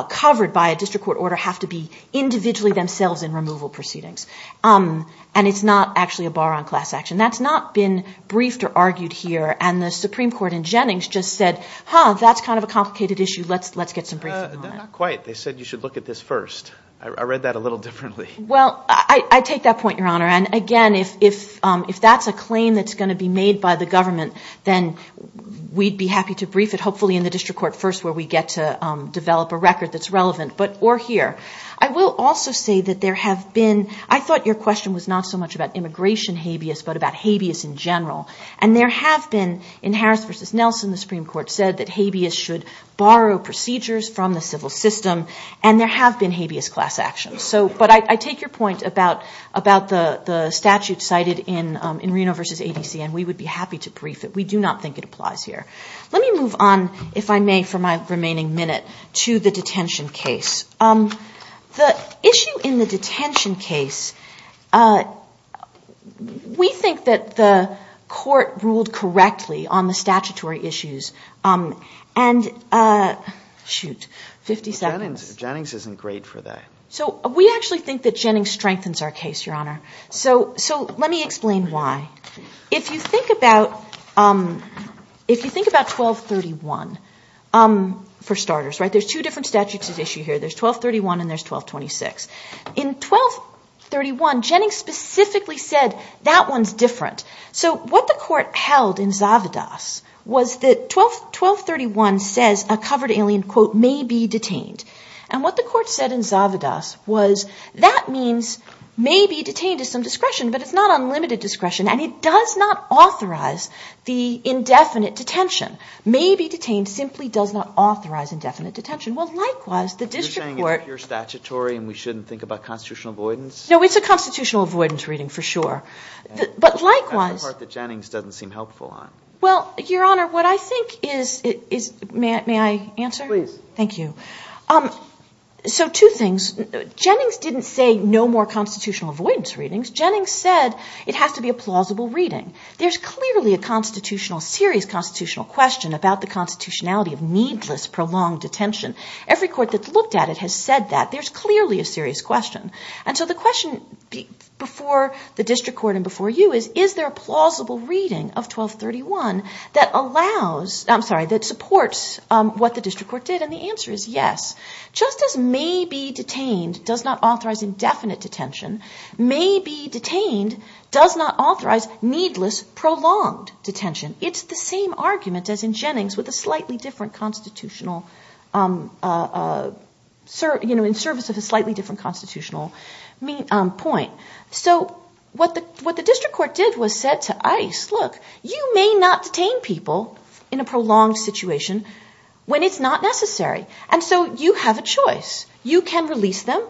covered by a district court order have to be individually themselves in removal proceedings. And it's not actually a bar on class action. That's not been briefed or argued here. And the Supreme Court in Jennings just said, huh, that's kind of a complicated issue. Let's get some briefing on it. Not quite. They said you should look at this first. I read that a little differently. Well, I take that point, Your Honor. And again, if that's a claim that's gonna be made by the government, then we'd be happy to brief it, hopefully in the district court first, where we get to develop a record that's relevant, but or here. I will also say that there have been, I thought your question was not so much about immigration habeas, but about habeas in general. And there have been, in Harris versus Nelson, the Supreme Court said that habeas should borrow procedures from the civil system. And there have been habeas class actions. But I take your point about the statute cited in Reno versus ADC, and we would be happy to brief it. We do not think it applies here. Let me move on, if I may, for my remaining minute to the detention case. The issue in the detention case, we think that the court ruled correctly on the statutory issues. And shoot, 50 seconds. Jennings isn't great for that. So we actually think that Jennings strengthens our case, Your Honor. So let me explain why. If you think about 1231, for starters, right? There's two different statutes at issue here. There's 1231 and there's 1226. In 1231, Jennings specifically said, that one's different. So what the court held in Zavadas was that 1231 says a covered alien, quote, may be detained. And what the court said in Zavadas was, that means may be detained is some discretion, but it's not unlimited discretion. And it does not authorize the indefinite detention. May be detained simply does not authorize indefinite detention. Well, likewise, the district court. You're saying it's pure statutory and we shouldn't think about constitutional avoidance? No, it's a constitutional avoidance reading for sure. But likewise. That's the part that Jennings doesn't seem helpful on. Well, Your Honor, what I think is, may I answer? Please. Thank you. So two things. Jennings didn't say no more constitutional avoidance readings. Jennings said it has to be a plausible reading. There's clearly a serious constitutional question about the constitutionality of needless prolonged detention. Every court that's looked at it has said that. There's clearly a serious question. And so the question before the district court and before you is, is there a plausible reading of 1231 that allows, I'm sorry, that supports what the district court did? And the answer is yes. Just as may be detained does not authorize indefinite detention, may be detained does not authorize needless prolonged detention. It's the same argument as in Jennings with a slightly different constitutional, in service of a slightly different constitutional point. So what the district court did was said to ICE, look, you may not detain people in a prolonged situation when it's not necessary. And so you have a choice. You can release them.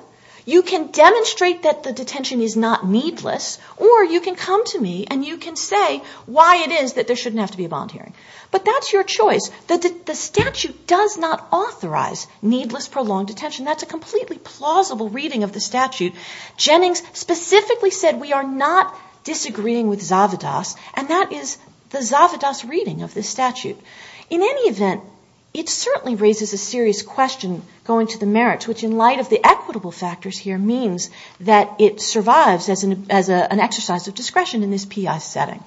You can demonstrate that the detention is not needless, or you can come to me and you can say why it is that there shouldn't have to be a bond hearing. But that's your choice. The statute does not authorize needless prolonged detention. That's a completely plausible reading of the statute. Jennings specifically said, we are not disagreeing with Zavadas. And that is the Zavadas reading of the statute. In any event, it certainly raises a serious question going to the merits, which in light of the equitable factors here means that it survives as an exercise of discretion in this PI setting.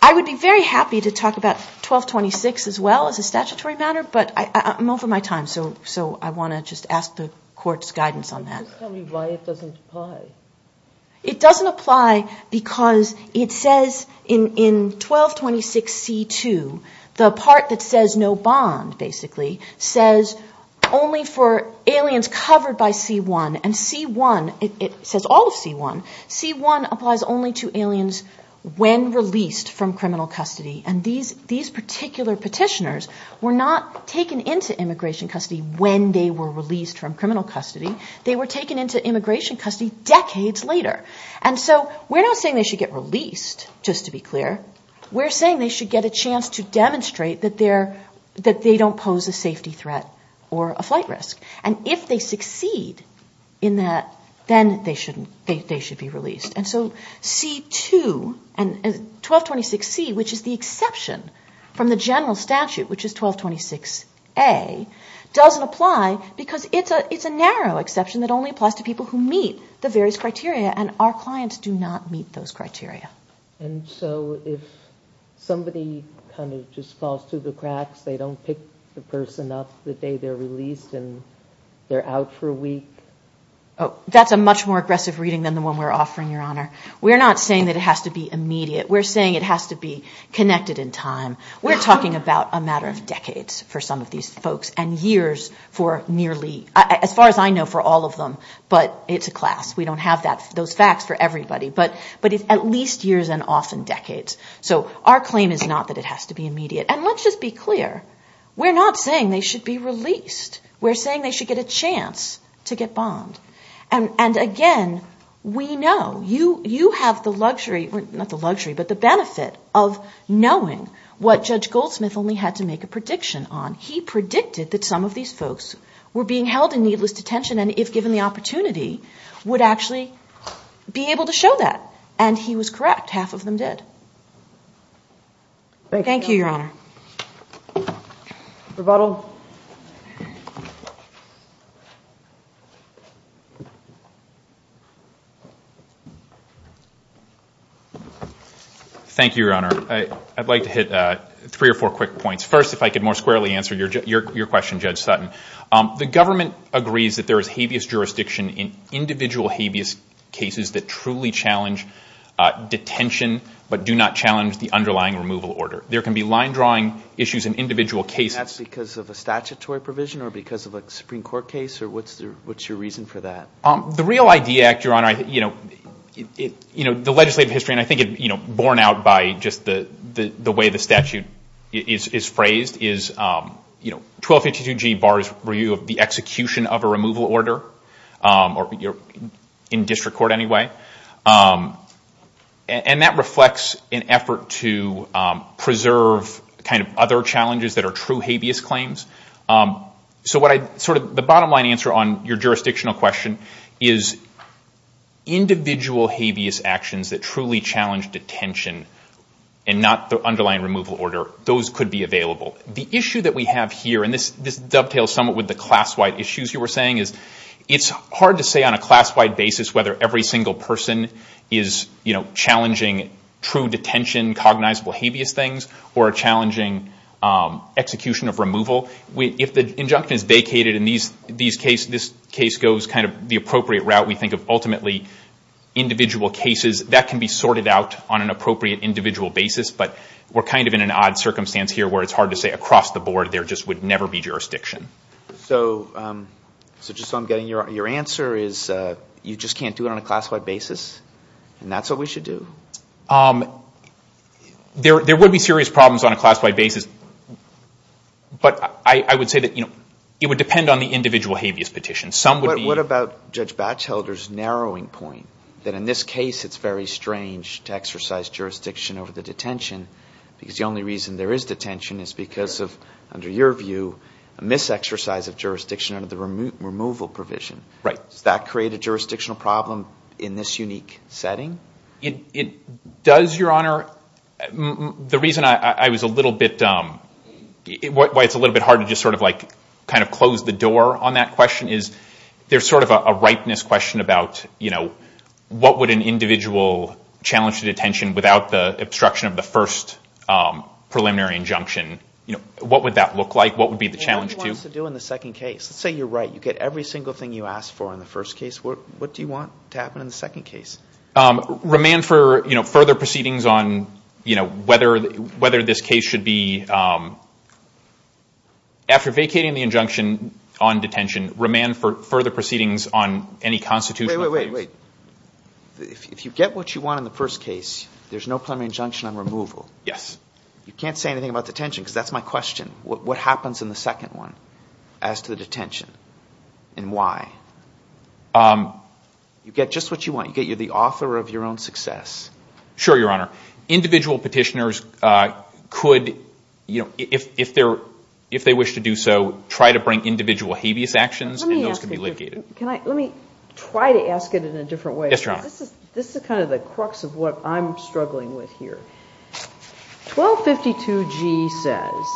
I would be very happy to talk about 1226 as well as a statutory matter, but I'm over my time. So I wanna just ask the court's guidance on that. Just tell me why it doesn't apply. It doesn't apply because it says in 1226 C2, the part that says no bond basically says only for aliens covered by C1. And C1, it says all of C1. C1 applies only to aliens when released from criminal custody. And these particular petitioners were not taken into immigration custody when they were released from criminal custody. They were taken into immigration custody decades later. And so we're not saying they should get released just to be clear. We're saying they should get a chance to demonstrate that they don't pose a safety threat or a flight risk. And if they succeed in that, then they should be released. And so C2 and 1226 C, which is the exception from the general statute, which is 1226 A, doesn't apply because it's a narrow exception that only applies to people who meet the various criteria. And our clients do not meet those criteria. And so if somebody kind of just falls through the cracks, they don't pick the person up the day they're released and they're out for a week? Oh, that's a much more aggressive reading than the one we're offering, Your Honor. We're not saying that it has to be immediate. We're talking about a matter of decades for some of these folks and years for nearly, as far as I know, for all of them, but it's a class. We don't have those facts for everybody, but it's at least years and often decades. So our claim is not that it has to be immediate. And let's just be clear. We're not saying they should be released. We're saying they should get a chance to get bombed. And again, we know you have the luxury, not the luxury, but the benefit of knowing what Judge Goldsmith only had to make a prediction on. He predicted that some of these folks were being held in needless detention and if given the opportunity, would actually be able to show that. And he was correct, half of them did. Thank you, Your Honor. Rebuttal. Thank you, Your Honor. I'd like to hit three or four quick points. First, if I could more squarely answer your question, Judge Sutton. The government agrees that there is habeas jurisdiction in individual habeas cases that truly challenge detention, but do not challenge the underlying removal order. There can be line drawing issues in individual cases. And that's because of a statutory provision or because of a Supreme Court case? Or what's your reason for that? The Real ID Act, Your Honor, the legislative history, and I think it, borne out by just the way the statute is phrased, is 1252G bars review of the execution of a removal order or in district court anyway. And that reflects an effort to preserve kind of other challenges that are true habeas claims. So what I sort of, the bottom line answer on your jurisdictional question is individual habeas actions that truly challenge detention and not the underlying removal order, those could be available. The issue that we have here, and this dovetails somewhat with the class-wide issues you were saying, is it's hard to say on a class-wide basis whether every single person is challenging true detention, cognizable habeas things, or challenging execution of removal. If the injunction is vacated in these case, this case goes kind of the appropriate route we think of ultimately individual cases, that can be sorted out on an appropriate individual basis, but we're kind of in an odd circumstance here where it's hard to say across the board there just would never be jurisdiction. So just so I'm getting your answer is you just can't do it on a class-wide basis? And that's what we should do? There would be serious problems on a class-wide basis, but I would say that it would depend on the individual habeas petition. Some would be- What about Judge Batchelder's narrowing point? That in this case, it's very strange to exercise jurisdiction over the detention because the only reason there is detention is because of, under your view, a mis-exercise of jurisdiction under the removal provision. Right. Does that create a jurisdictional problem in this unique setting? Does, Your Honor, the reason I was a little bit, why it's a little bit hard to just sort of like kind of close the door on that question is there's sort of a ripeness question about, what would an individual challenge to detention without the obstruction of the first preliminary injunction? What would that look like? What would be the challenge to- Well, what do you want us to do in the second case? Let's say you're right. You get every single thing you asked for in the first case. What do you want to happen in the second case? Remand for further proceedings on whether this case should be, after vacating the injunction on detention, remand for further proceedings on any constitutional- Wait, wait, wait, wait. If you get what you want in the first case, there's no preliminary injunction on removal. Yes. You can't say anything about detention because that's my question. What happens in the second one as to the detention and why? You get just what you want. You get, you're the author of your own success. Sure, Your Honor. Individual petitioners could, if they wish to do so, try to bring individual habeas actions and those can be litigated. Can I, let me try to ask it in a different way. Yes, Your Honor. This is kind of the crux of what I'm struggling with here. 1252G says,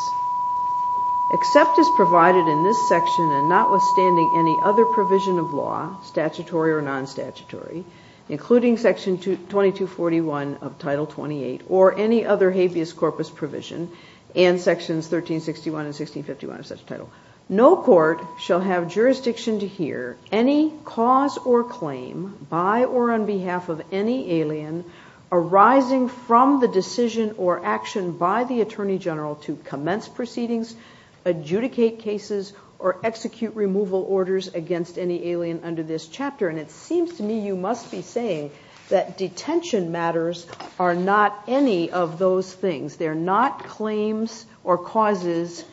except as provided in this section and notwithstanding any other provision of law, statutory or non-statutory, including section 2241 of title 28 or any other habeas corpus provision and sections 1361 and 1651 of such a title, no court shall have jurisdiction to hear any cause or claim by or on behalf of any alien arising from the decision or action by the attorney general to commence proceedings, adjudicate cases, or execute removal orders against any alien under this chapter. And it seems to me you must be saying that detention matters are not any of those things. They're not claims or causes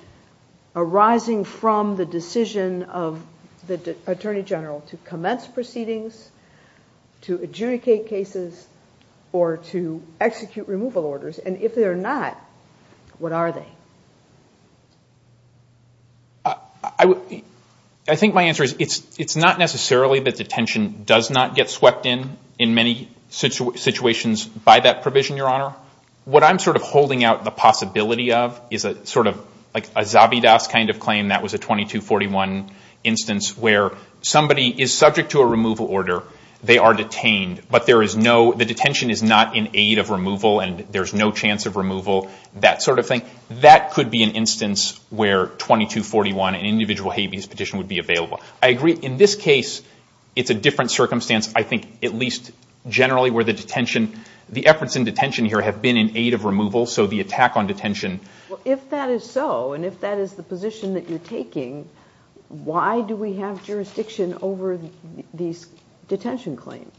arising from the decision of the attorney general to commence proceedings, to adjudicate cases, or to execute removal orders. And if they're not, what are they? I think my answer is it's not necessarily that detention does not get swept in in many situations by that provision, Your Honor. What I'm sort of holding out the possibility of is a sort of like a Zabidas kind of claim that was a 2241 instance where somebody is subject to a removal order, they are detained, but there is no, the detention is not in aid of removal and there's no chance of removal, that sort of thing. That could be an instance where 2241, an individual habeas petition would be available. I agree in this case, it's a different circumstance. I think at least generally where the detention, the efforts in detention here have been in aid of removal. So the attack on detention. Well, if that is so, and if that is the position that you're taking, why do we have jurisdiction over these detention claims?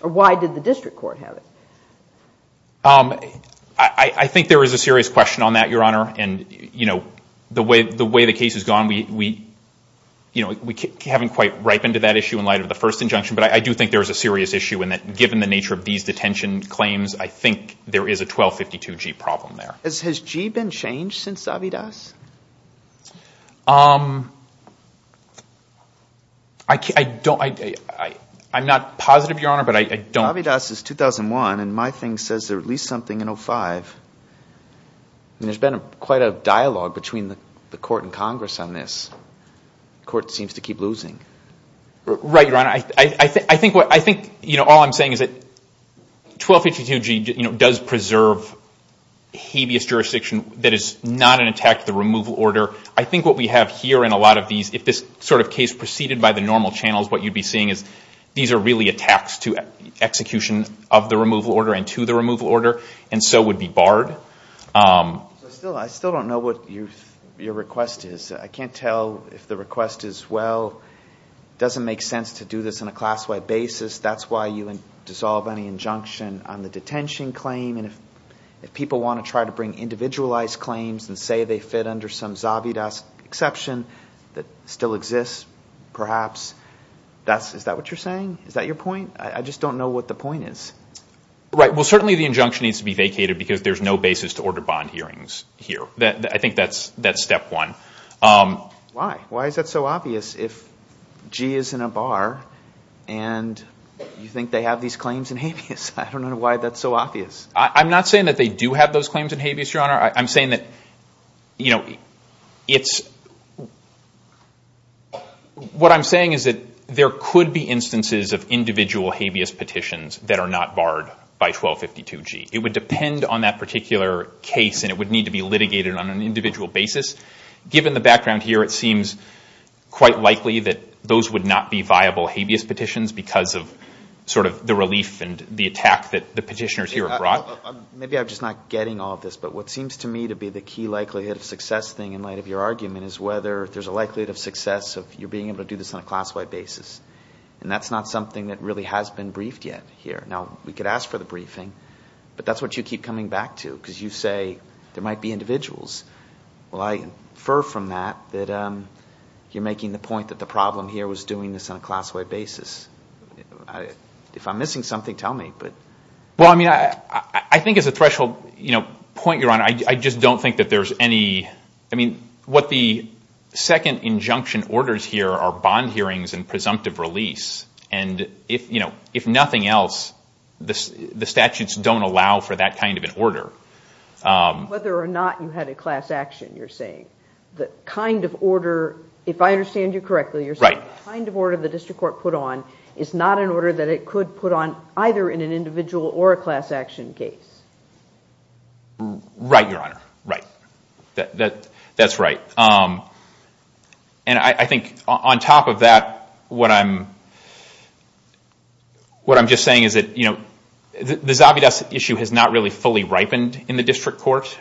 Or why did the district court have it? I think there is a serious question on that, Your Honor. And the way the case has gone, we haven't quite ripened to that issue in light of the first injunction, but I do think there is a serious issue in that given the nature of these detention claims, I think there is a 1252G problem there. Has G been changed since Avidas? I don't, I'm not positive, Your Honor, but I don't. Avidas is 2001 and my thing says there are at least something in 05. And there's been quite a dialogue between the court and Congress on this. Court seems to keep losing. Right, Your Honor. I think all I'm saying is that 1252G does preserve habeas jurisdiction that is not an attack to the removal order. I think what we have here in a lot of these, if this sort of case proceeded by the normal channels, what you'd be seeing is these are really attacks to execution of the removal order and to the removal order, and so would be barred. I still don't know what your request is. I can't tell if the request is, well, it doesn't make sense to do this on a class-wide basis. That's why you dissolve any injunction on the detention claim. And if people wanna try to bring individualized claims and say they fit under some Zavidas exception that still exists, perhaps, is that what you're saying? Is that your point? I just don't know what the point is. Right, well, certainly the injunction needs to be vacated because there's no basis to order bond hearings here. I think that's step one. Why? Why is that so obvious if G is in a bar and you think they have these claims in habeas? I don't know why that's so obvious. I'm not saying that they do have those claims in habeas, Your Honor. I'm saying that, you know, it's, what I'm saying is that there could be instances of individual habeas petitions that are not barred by 1252-G. It would depend on that particular case and it would need to be litigated on an individual basis. Given the background here, it seems quite likely that those would not be viable habeas petitions because of sort of the relief and the attack that the petitioners here have brought. Maybe I'm just not getting all of this, but what seems to me to be the key likelihood of success thing in light of your argument is whether there's a likelihood of success of you being able to do this on a class-wide basis. And that's not something that really has been briefed yet here. Now, we could ask for the briefing, but that's what you keep coming back to because you say there might be individuals. Well, I infer from that that you're making the point that the problem here was doing this on a class-wide basis. If I'm missing something, tell me, but. Well, I mean, I think as a threshold point, Your Honor, I just don't think that there's any, I mean, what the second injunction orders here are bond hearings and presumptive release. And if nothing else, the statutes don't allow for that kind of an order. Whether or not you had a class action, you're saying. The kind of order, if I understand you correctly, you're saying the kind of order the district court put on is not an order that it could put on either in an individual or a class action case. Right, Your Honor, right. That's right. And I think on top of that, what I'm just saying is that the Zobby Dust issue has not really fully ripened in the district court.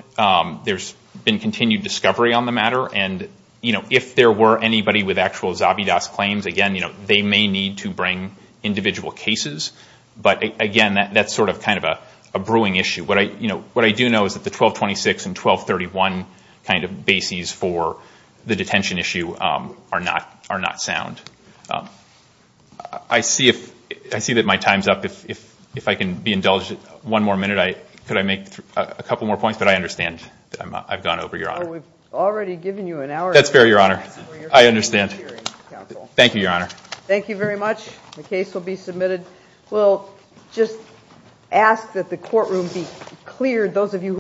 There's been continued discovery on the matter. And if there were anybody with actual Zobby Dust claims, again, they may need to bring individual cases. But again, that's sort of kind of a brewing issue. What I do know is that the 1226 and 1231 kind of bases for the detention issue are not sound. I see that my time's up. If I can be indulged one more minute, could I make a couple more points? But I understand that I've gone over, Your Honor. We've already given you an hour. That's fair, Your Honor. I understand. Thank you, Your Honor. Thank you very much. The case will be submitted. We'll just ask that the courtroom be cleared, those of you.